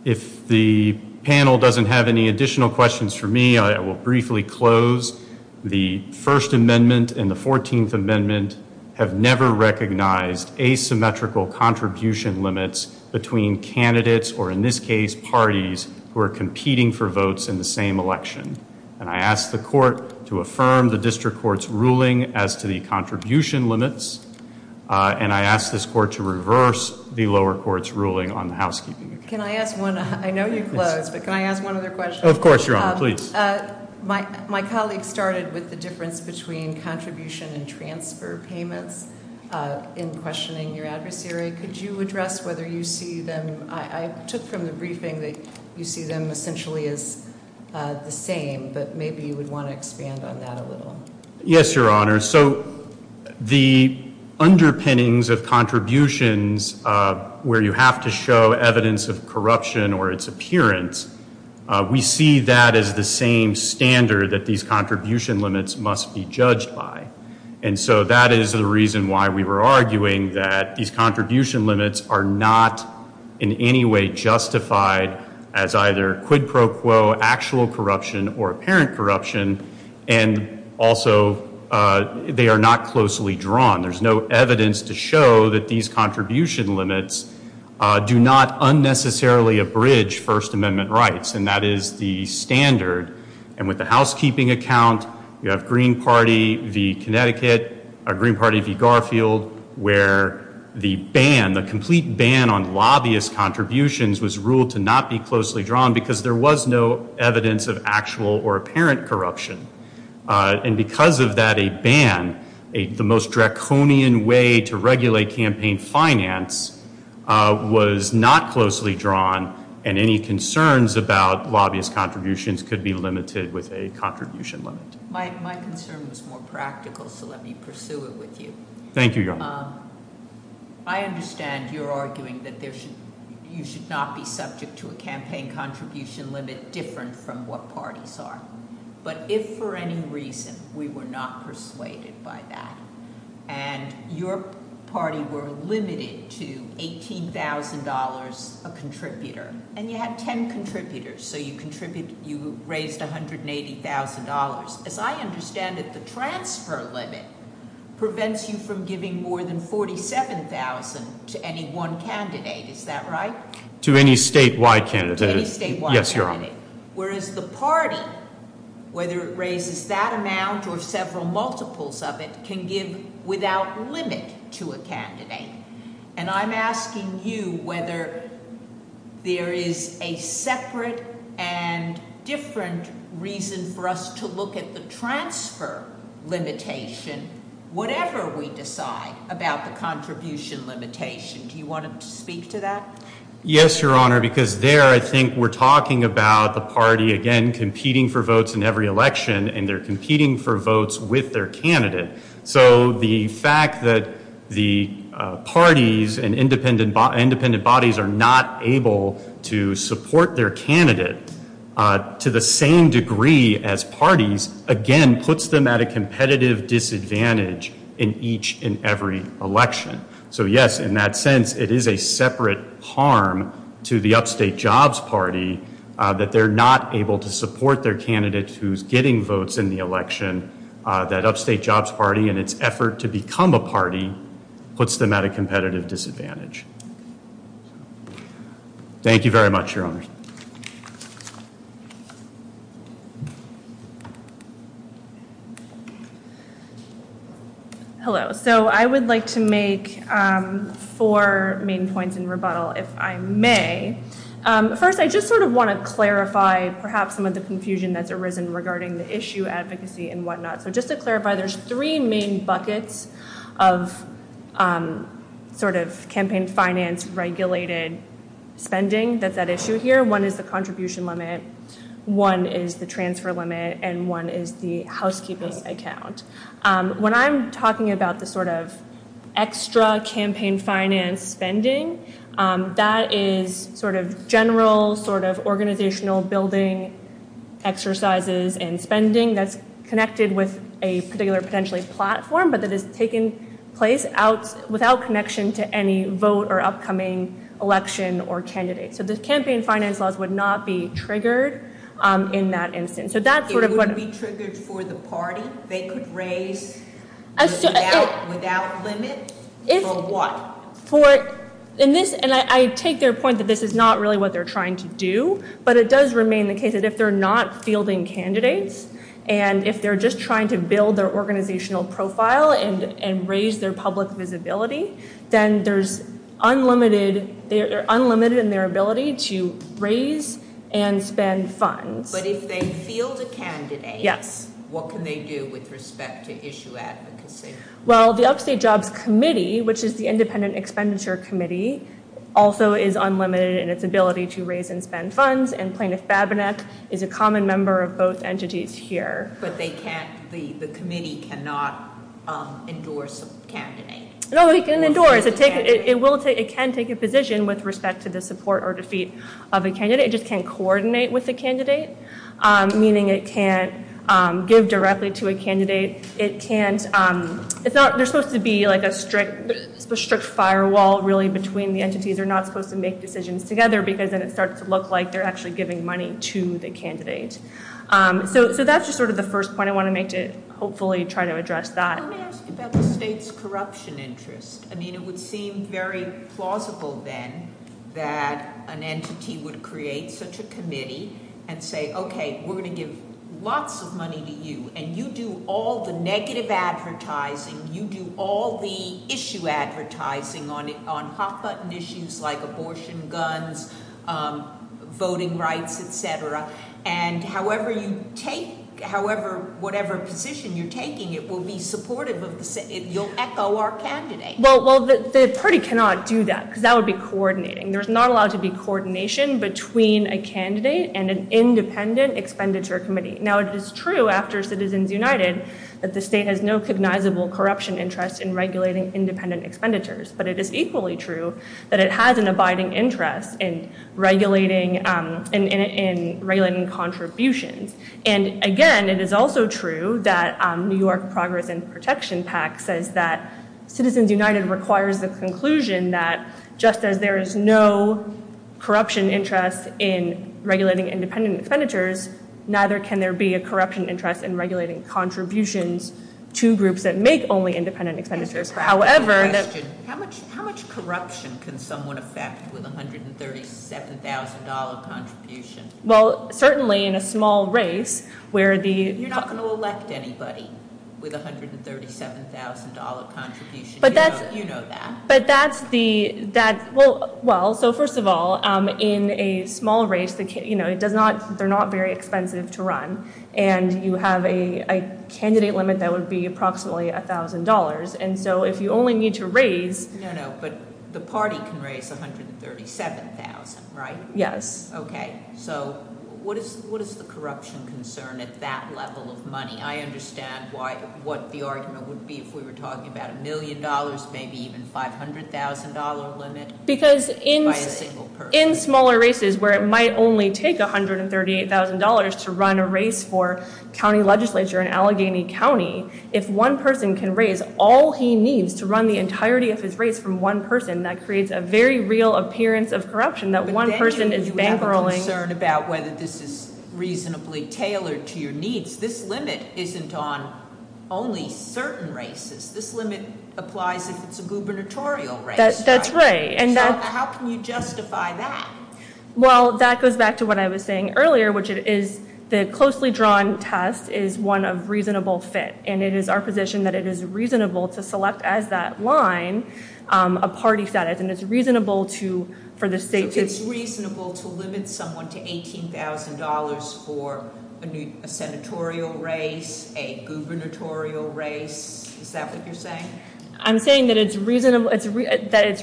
If the panel doesn't have any additional questions for me, I will briefly close. The First Amendment and the 14th Amendment have never recognized asymmetrical contribution limits between candidates, or in this case, parties who are competing for votes in the same election. And I ask the court to affirm the district court's ruling as to the contribution limits, and I ask this court to reverse the lower court's ruling on housekeeping. Can I ask one? I know you've closed, but can I ask one other question? Of course, Your Honor. Please. My colleague started with the difference between contribution and transfer payments in questioning your adversary. Could you address whether you see them? Just from the briefing, you see them essentially as the same, but maybe you would want to expand on that a little. Yes, Your Honor. So the underpinnings of contributions where you have to show evidence of corruption or its appearance, we see that as the same standard that these contribution limits must be judged by. And so that is the reason why we were arguing that these contribution limits are not in any way justified as either quid pro quo, actual corruption, or apparent corruption, and also they are not closely drawn. There's no evidence to show that these contribution limits do not unnecessarily abridge First Amendment rights, and that is the standard. And with the housekeeping account, you have Green Party v. Connecticut, Green Party v. Garfield, where the ban, the complete ban on lobbyist contributions was ruled to not be closely drawn because there was no evidence of actual or apparent corruption. And because of that, a ban, the most draconian way to regulate campaign finance, was not closely drawn, and any concerns about lobbyist contributions could be limited with a contribution limit. My concern is more practical, so let me pursue it with you. Thank you, Your Honor. I understand you're arguing that you should not be subject to a campaign contribution limit different from what parties are, but if for any reason we were not persuaded by that, and your party were limited to $18,000 a contributor, and you had 10 contributors, so you raised $180,000. As I understand it, the transfer limit prevents you from giving more than $47,000 to any one candidate. Is that right? To any statewide candidate. Yes, Your Honor. Whereas the party, whether it raises that amount or several multiples of it, can give without limit to a candidate. And I'm asking you whether there is a separate and different reason for us to look at the transfer limitation whatever we decide about the contribution limitation. Do you want to speak to that? Yes, Your Honor, because there I think we're talking about the party, again, competing for votes in every election, and they're competing for votes with their candidate. So the fact that the parties and independent bodies are not able to support their candidate to the same degree as parties, again, puts them at a competitive disadvantage in each and every election. So, yes, in that sense, it is a separate harm to the Upstate Jobs Party that they're not able to support their candidates who's getting votes in the election. That Upstate Jobs Party, in its effort to become a party, puts them at a competitive disadvantage. Thank you very much, Your Honor. Thank you. Hello. So I would like to make four main points in rebuttal, if I may. First, I just sort of want to clarify perhaps some of the confusion that's arisen regarding the issue advocacy and whatnot. So just to clarify, there's three main buckets of sort of campaign finance regulated spending that's at issue here. One is the contribution limit, one is the transfer limit, and one is the housekeeping account. When I'm talking about the sort of extra campaign finance spending, that is sort of general, sort of organizational building, exercises, and spending that's connected with a particular potentially platform but that is taking place without connection to any vote or upcoming election or candidate. So this campaign finance buzz would not be triggered in that instance. So that's sort of what... It wouldn't be triggered for the party? They could raise without limit? For what? For, and I take their point that this is not really what they're trying to do, but it does remain the case that if they're not fielding candidates and if they're just trying to build their organizational profile and raise their public visibility, then there's unlimited, they're unlimited in their ability to raise and spend funds. But if they field a candidate, what can they do with respect to issue advocacy? Well, the Upstate Jobs Committee, which is the independent expenditure committee, also is unlimited in its ability to raise and spend funds, and Plaintiff's Babinette is a common member of both entities here. But they can't, the committee cannot endorse a candidate? No, it can endorse, it can take a position with respect to the support or defeat of a candidate, it just can't coordinate with a candidate, meaning it can't give directly to a candidate, it can't, it's not, there's supposed to be like a strict firewall really between the entities, they're not supposed to make decisions together because then it starts to look like they're actually giving money to the candidate. So that's just sort of the first point I want to make to hopefully try to address that. I would ask about the state's corruption interest. I mean, it would seem very plausible then that an entity would create such a committee and say, okay, we're going to give lots of money to you and you do all the negative advertising, you do all the issue advertising on hot-button issues like abortion, guns, voting rights, et cetera, and however you take, however, whatever position you're taking, it will be supportive of, you'll echo our candidate. Well, the party cannot do that because that would be coordinating. There's not allowed to be coordination between a candidate and an independent expenditure committee. Now, it is true after Citizens United that the state has no cognizable corruption interest in regulating independent expenditures, but it is equally true that it has an abiding interest in regulating contributions. And again, it is also true that New York Progress and Protection Act says that Citizens United requires the conclusion that just as there is no corruption interest in regulating independent expenditures, neither can there be a corruption interest in regulating contributions to groups that make only independent expenditures. However... How much corruption can someone affect with $137,000 contribution? Well, certainly in a small race where the... You're not going to elect anybody with $137,000 contribution. You know that. But that's the... Well, so first of all, in a small race, they're not very expensive to run, and you have a candidate limit that would be approximately $1,000. And so if you only need to raise... No, no, but the party can raise $137,000, right? Yes. Okay. So what is the corruption concern at that level of money? I understand what the argument would be if we were talking about a million dollars, maybe even $500,000 limit... Because in smaller races where it might only take $138,000 to run a race for county legislature in Allegheny County, if one person can raise all he needs to run the entirety of his race from one person, that creates a very real appearance of corruption and that one person is... But then you have a concern about whether this is reasonably tailored to your needs. This limit isn't on only certain races. This limit applies if it's a gubernatorial race. That's right. How can you justify that? Well, that goes back to what I was saying earlier, which is the closely drawn test is one of reasonable fit. And it is our position that it is reasonable to select as that line a party status, and it's reasonable for the state to... It's reasonable to limit someone to $18,000 for a senatorial race, a gubernatorial race. Is that what you're saying? I'm saying that it's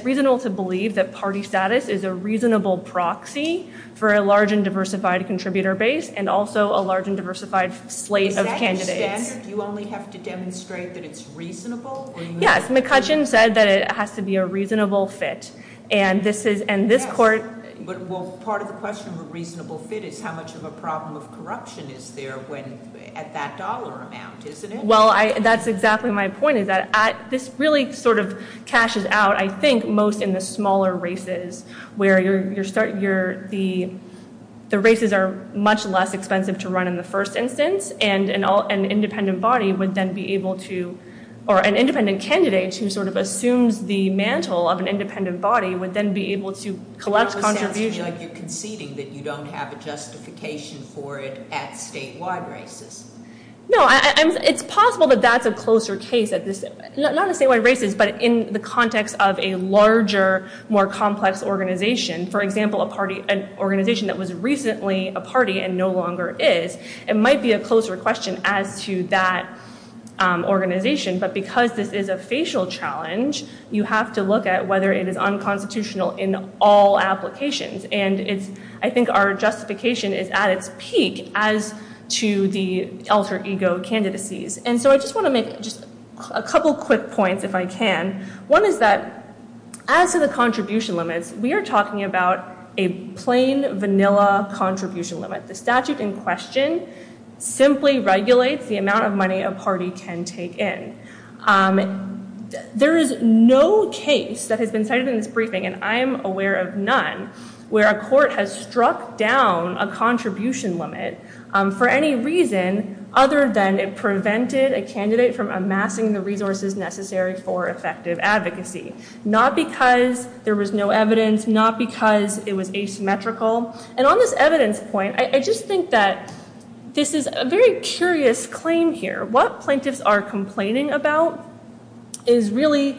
reasonable to believe that party status is a reasonable proxy for a large and diversified contributor base and also a large and diversified slate of candidates. Is that standard? You only have to demonstrate that it's reasonable? Yes, McCutcheon said that it has to be a reasonable fit. And this court... Well, part of the question of a reasonable fit is how much of a problem of corruption is there at that dollar amount, isn't it? Well, that's exactly my point. This really sort of cashes out, I think, most in the smaller races where the races are much less expensive to run in the first instance, and an independent body would then be able to... The mantle of an independent body would then be able to collect contributions... It sounds like you're conceding that you don't have a justification for it at statewide races. No, it's possible that that's a closer case. Not at statewide races, but in the context of a larger, more complex organization. For example, an organization that was recently a party and no longer is. It might be a closer question as to that organization, but because this is a facial challenge, you have to look at whether it is unconstitutional in all applications. And I think our justification is at its peak as to the alter ego candidacies. And so I just want to make a couple quick points, if I can. One is that as to the contribution limit, we are talking about a plain, vanilla contribution limit. The statute in question simply regulates the amount of money a party can take in. There is no case that has been cited in this briefing, and I am aware of none, where a court has struck down a contribution limit for any reason other than it prevented a candidate from amassing the resources necessary for effective advocacy. Not because there was no evidence, not because it was asymmetrical. And on this evidence point, I just think that this is a very curious claim here. What plaintiffs are complaining about is really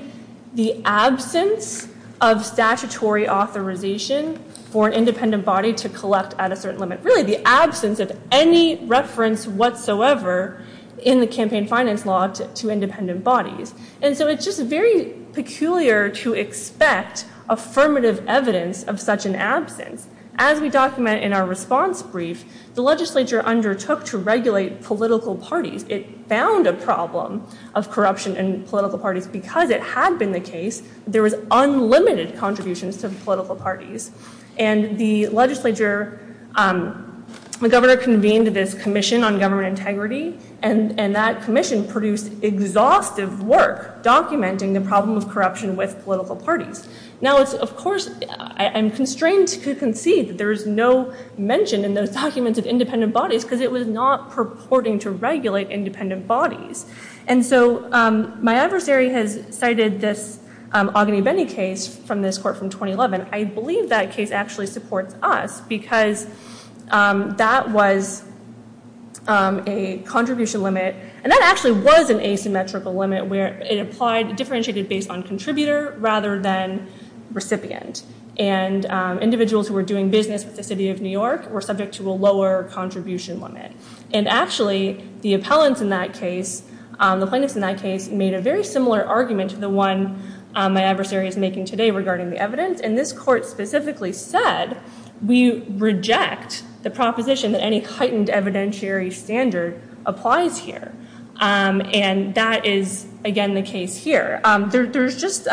the absence of statutory authorization for an independent body to collect at a certain limit. Really, the absence of any reference whatsoever in the campaign finance law to independent bodies. And so it's just very peculiar to expect affirmative evidence of such an absence. As we document in our response brief, the legislature undertook to regulate political parties. It found a problem of corruption in political parties. Because it had been the case, there was unlimited contributions to the political parties. And the legislature, the governor convened this commission on government integrity, and that commission produced exhaustive work documenting the problem of corruption with political parties. Now, of course, I'm constrained to concede that there is no mention in those documents of independent bodies, because it was not purporting to regulate independent bodies. And so my adversary has cited this Ognebendi case from this court from 2011. I believe that case actually supports us, because that was a contribution limit. And that actually was an asymmetrical limit where it applied, differentiated based on contributor rather than recipient. And individuals who were doing business in the city of New York were subject to a lower contribution limit. And actually, the appellants in that case, the plaintiffs in that case, made a very similar argument to the one my adversary is making today regarding the evidence. And this court specifically said, we reject the proposition that any heightened evidentiary standard applies here. And that is, again, the case here. There's just...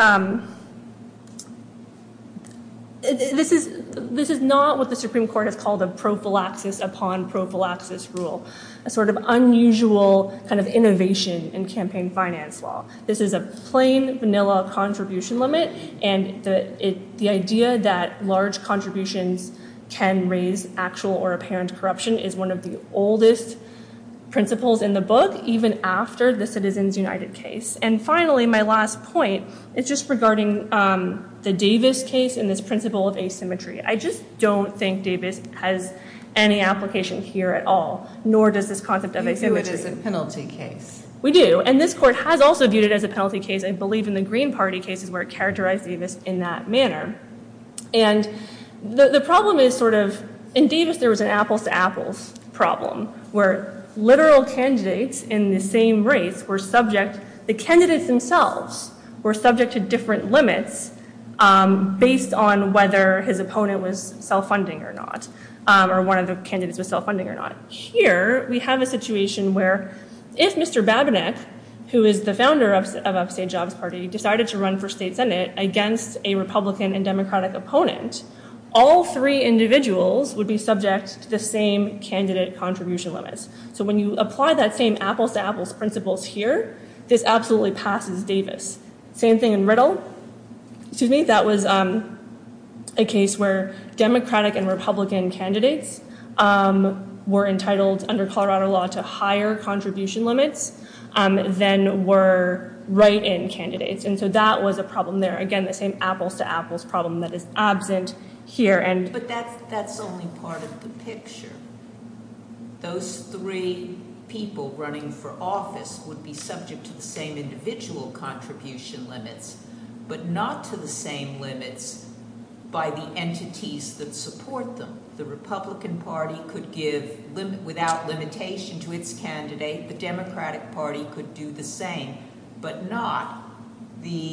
This is not what the Supreme Court has called a prophylaxis upon prophylaxis rule, a sort of unusual kind of innovation in campaign finance law. This is a plain vanilla contribution limit. And the idea that large contributions can raise actual or apparent corruption is one of the oldest principles in the book, even after the Citizens United case. And finally, my last point, it's just regarding the Davis case and its principle of asymmetry. I just don't think Davis has any application here at all, nor does this concept of asymmetry. We do it as a penalty case. We do. And this court has also viewed it as a penalty case, I believe, in the Green Party case where it characterized Davis in that manner. And the problem is sort of... In Davis, there was an apples-to-apples problem where literal candidates in the same race were subject... The candidates themselves were subject to different limits based on whether his opponent was self-funding or not or one of the candidates was self-funding or not. Here, we have a situation where if Mr. Babinetz, who is the founder of Upstate Jobs Party, decided to run for state senate against a Republican and Democratic opponent, all three individuals would be subject to the same candidate contribution limits. So when you apply that same apples-to-apples principle here, it absolutely passes Davis. Same thing in Riddle. Excuse me, that was a case where Democratic and Republican candidates were entitled under Colorado law to higher contribution limits than were write-in candidates. And so that was a problem there. Again, the same apples-to-apples problem that is absent here. But that's only part of the picture. Those three people running for office would be subject to the same individual contribution limits but not to the same limits by the entities that support them. The Republican Party could give, without limitation to its candidate, the Democratic Party could do the same but not the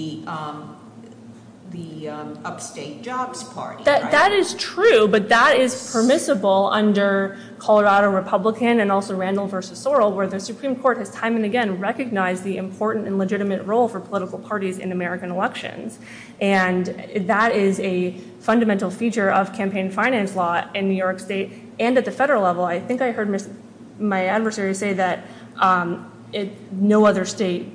Upstate Jobs Party. That is true, but that is permissible under Colorado Republican and also Randall v. Sorrell where the Supreme Court has time and again recognized the important and legitimate role for political parties in American elections. And that is a fundamental feature of campaign finance law in New York State and at the federal level. I think I heard my adversary say that no other state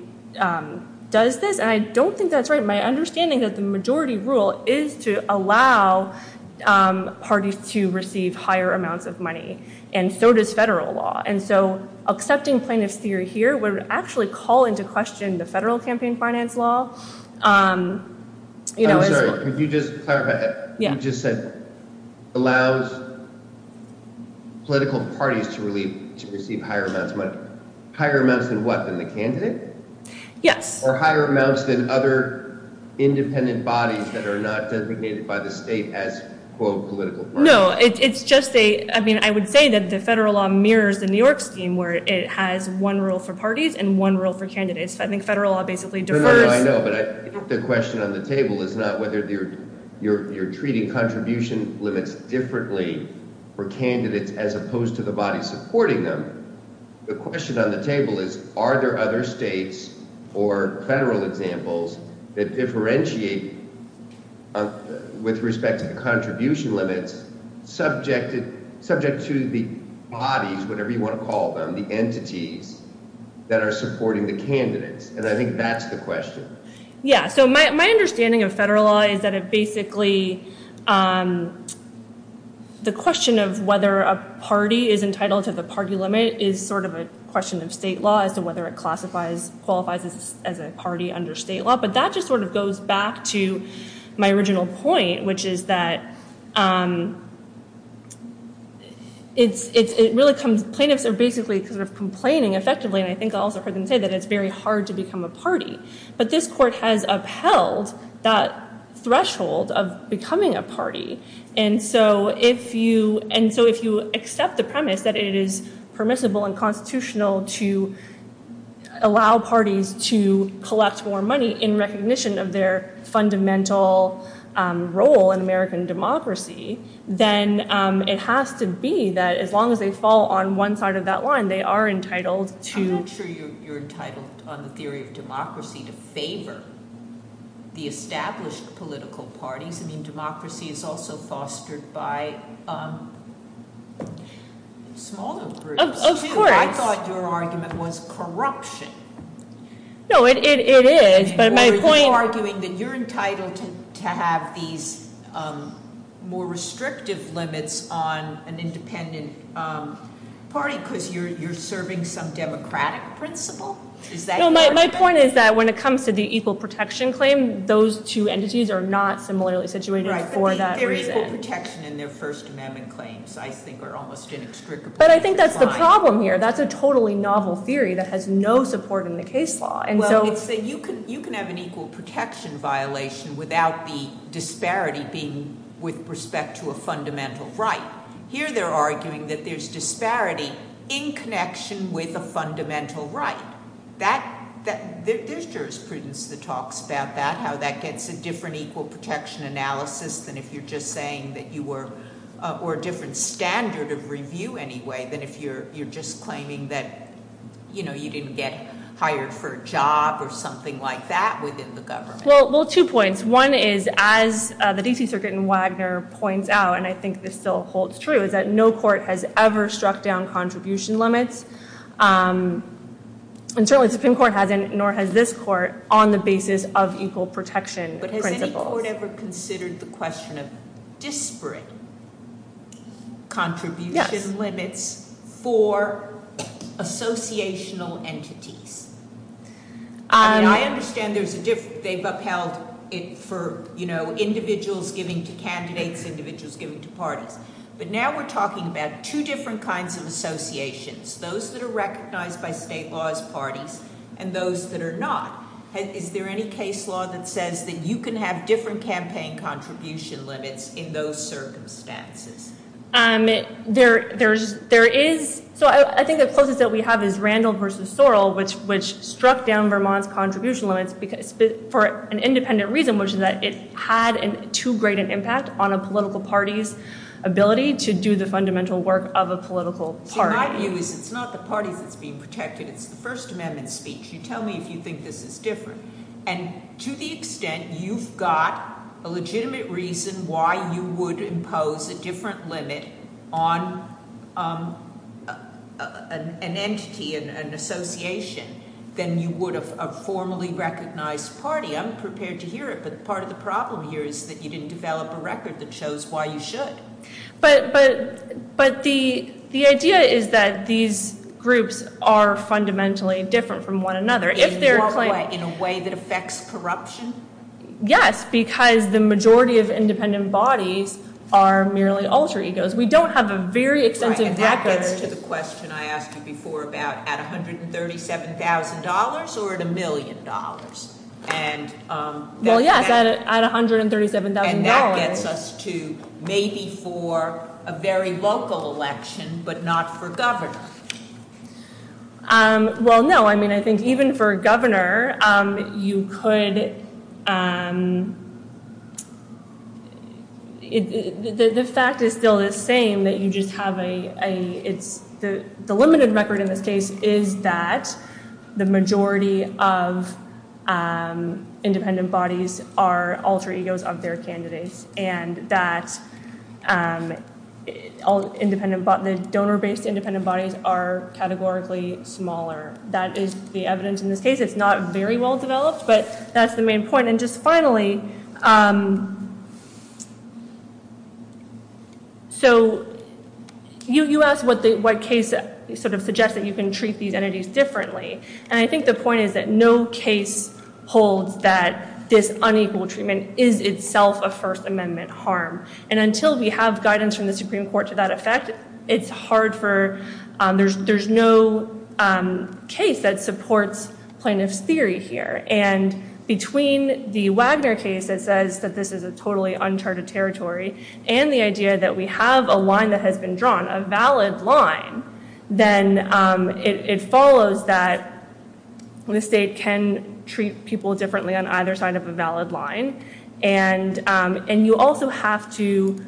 does this. And I don't think that's right. My understanding is the majority rule is to allow parties to receive higher amounts of money and so does federal law. And so accepting plaintiffs' fear here would actually call into question the federal campaign finance law. I'm sorry, could you just clarify that? You just said allows political parties to receive higher amounts of money. Higher amounts than what, than the candidate? Yes. Or higher amounts than other independent bodies that are not designated by the state as, quote, political parties. No, it's just a, I mean, I would say that the federal law mirrors the New York scheme where it has one rule for parties and one rule for candidates. I think federal law basically diverts... No, no, I know, but I think the question on the table is not whether you're treating contribution limits differently for candidates as opposed to the body supporting them. The question on the table is are there other states or federal examples that differentiate with respect to contribution limits subject to the body, whatever you want to call them, the entities that are supporting the candidates. And I think that's the question. Yeah, so my understanding of federal law is that it basically, the question of whether a party is entitled to the party limit is sort of a question of state law as to whether it classifies, qualifies as a party under state law. But that just sort of goes back to my original point, which is that it really comes, plaintiffs are basically sort of complaining effectively, and I think I also heard them say that it's very hard to become a party. But this court has upheld that threshold of becoming a party. And so if you accept the premise that it is permissible and constitutional to allow parties to collect more money, in recognition of their fundamental role in American democracy, then it has to be that as long as they fall on one side of that line, they are entitled to. I'm not sure you're entitled on the theory of democracy to favor the established political parties. I mean, democracy is also fostered by smaller groups. Of course. I thought your argument was corruption. No, it is. But my point... So you're arguing that you're entitled to have these more restrictive limits on an independent party because you're serving some democratic principle? My point is that when it comes to the equal protection claim, those two entities are not similarly situated for that reason. But I think that's the problem here. That's a totally novel theory that has no support in the case law. You can have an equal protection violation without the disparity being with respect to a fundamental right. Here they're arguing that there's disparity in connection with a fundamental right. This jurisprudence that talks about that, how that gets a different equal protection analysis than if you're just saying that you were... Or a different standard of review anyway than if you're just claiming that you didn't get hired for a job or something like that within the government. Well, two points. One is, as the D.C. Circuit in Wagner points out, and I think this still holds true, is that no court has ever struck down contribution limits. And certainly the Supreme Court hasn't, nor has this court, on the basis of equal protection principles. But has this court ever considered the question of disparate contribution limits for associational entities? I understand they've upheld it for individuals giving to candidates and individuals giving to parties. But now we're talking about two different kinds of associations. Those that are recognized by state laws parties and those that are not. Is there any case law that says that you can have different campaign contribution limits in those circumstances? There is. So I think the focus that we have is Randall versus Sorrell, which struck down Vermont's contribution limits for an independent reason, which is that it had too great an impact on a political party's ability to do the fundamental work of a political party. In my view, it's not the party that's being protected. It's the First Amendment speech. You tell me if you think this is different. And to the extent you've got a legitimate reason why you would impose a different limit on an entity, an association, than you would a formally recognized party, I'm prepared to hear it. But part of the problem here is that you didn't develop a record that shows why you should. But the idea is that these groups are fundamentally different from one another. In a way that affects corruption? Yes, because the majority of independent bodies are merely alter egos. We don't have a very extensive record. And that gets us to the question I asked you before about at $137,000 or at a million dollars? Well, yeah, at $137,000. And that gets us to maybe for a very local election, but not for governor. Well, no. I mean, I think even for a governor, you could... This fact is still the same, that you just have a... The limited record in this case is that the majority of independent bodies are alter egos of their candidates. And that the donor-based independent bodies are categorically smaller. That is the evidence in this case. It's not very well-developed, but that's the main point. And just finally... So you asked what case suggests that you can treat these entities differently. And I think the point is that no case holds that this unequal treatment is itself a First Amendment harm. And until we have guidance from the Supreme Court to that effect, it's hard for... For a case that supports plaintiff's theory here. And between the Wagner case that says that this is a totally uncharted territory and the idea that we have a line that has been drawn, a valid line, then it follows that blue state can treat people differently on either side of a valid line. And you also have to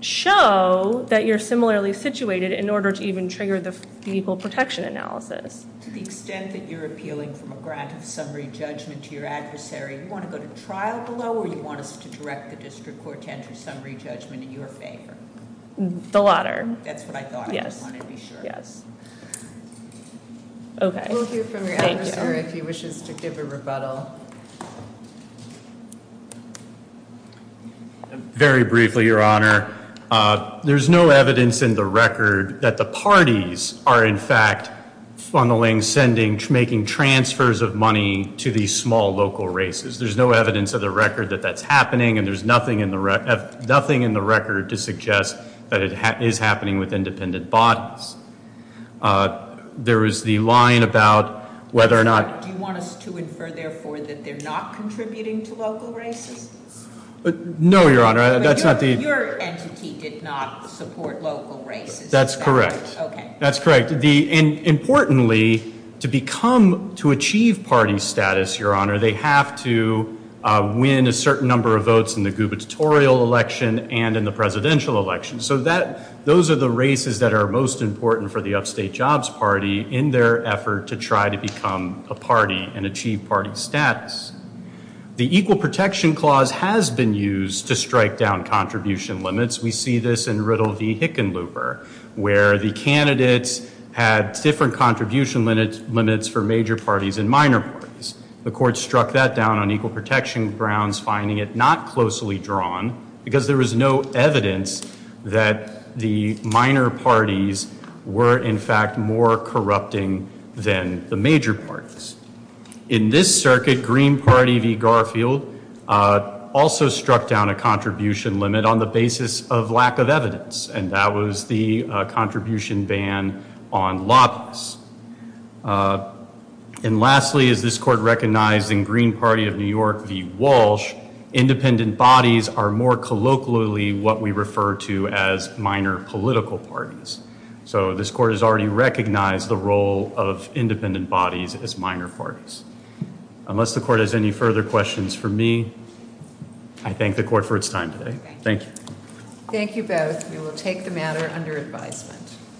show that you're similarly situated in order to even trigger this unequal protection analysis. To the extent that you're appealing from a grant of summary judgment to your adversary, do you want to go to trial below or do you want us to direct the district court to a summary judgment in your favor? The latter. That's what I thought. I just wanted to be sure. Yes. Okay. We'll hear from you, if you wish to give a rebuttal. Very briefly, Your Honor. There's no evidence in the record that the parties are in fact funneling, sending, making transfers of money to these small local races. There's no evidence in the record that that's happening and there's nothing in the record to suggest that it is happening with independent bodies. There is the line about whether or not... Do you want us to infer, therefore, that they're not contributing to local races? No, Your Honor. Your entity did not support local races. That's correct. Okay. That's correct. Importantly, to achieve party status, Your Honor, they have to win a certain number of votes in the gubernatorial election and in the presidential election. Those are the races that are most important for the Upstate Jobs Party in their effort to try to become a party and achieve party status. The Equal Protection Clause has been used to strike down contribution limits. We see this in Riddle v. Hickenlooper where the candidates had different contribution limits for major parties and minor parties. The court struck that down on Equal Protection grounds, finding it not closely drawn because there was no evidence that the minor parties were in fact more corrupting than the major parties. In this circuit, Green Party v. Garfield also struck down a contribution limit on the basis of lack of evidence, and that was the contribution ban on lobbyists. And lastly, this court recognized in Green Party of New York v. Walsh, independent bodies are more colloquially what we refer to as minor political parties. So this court has already recognized the role of independent bodies as minor parties. Unless the court has any further questions for me, I thank the court for its time today. Thank you. Thank you both. We will take the matter under advisement.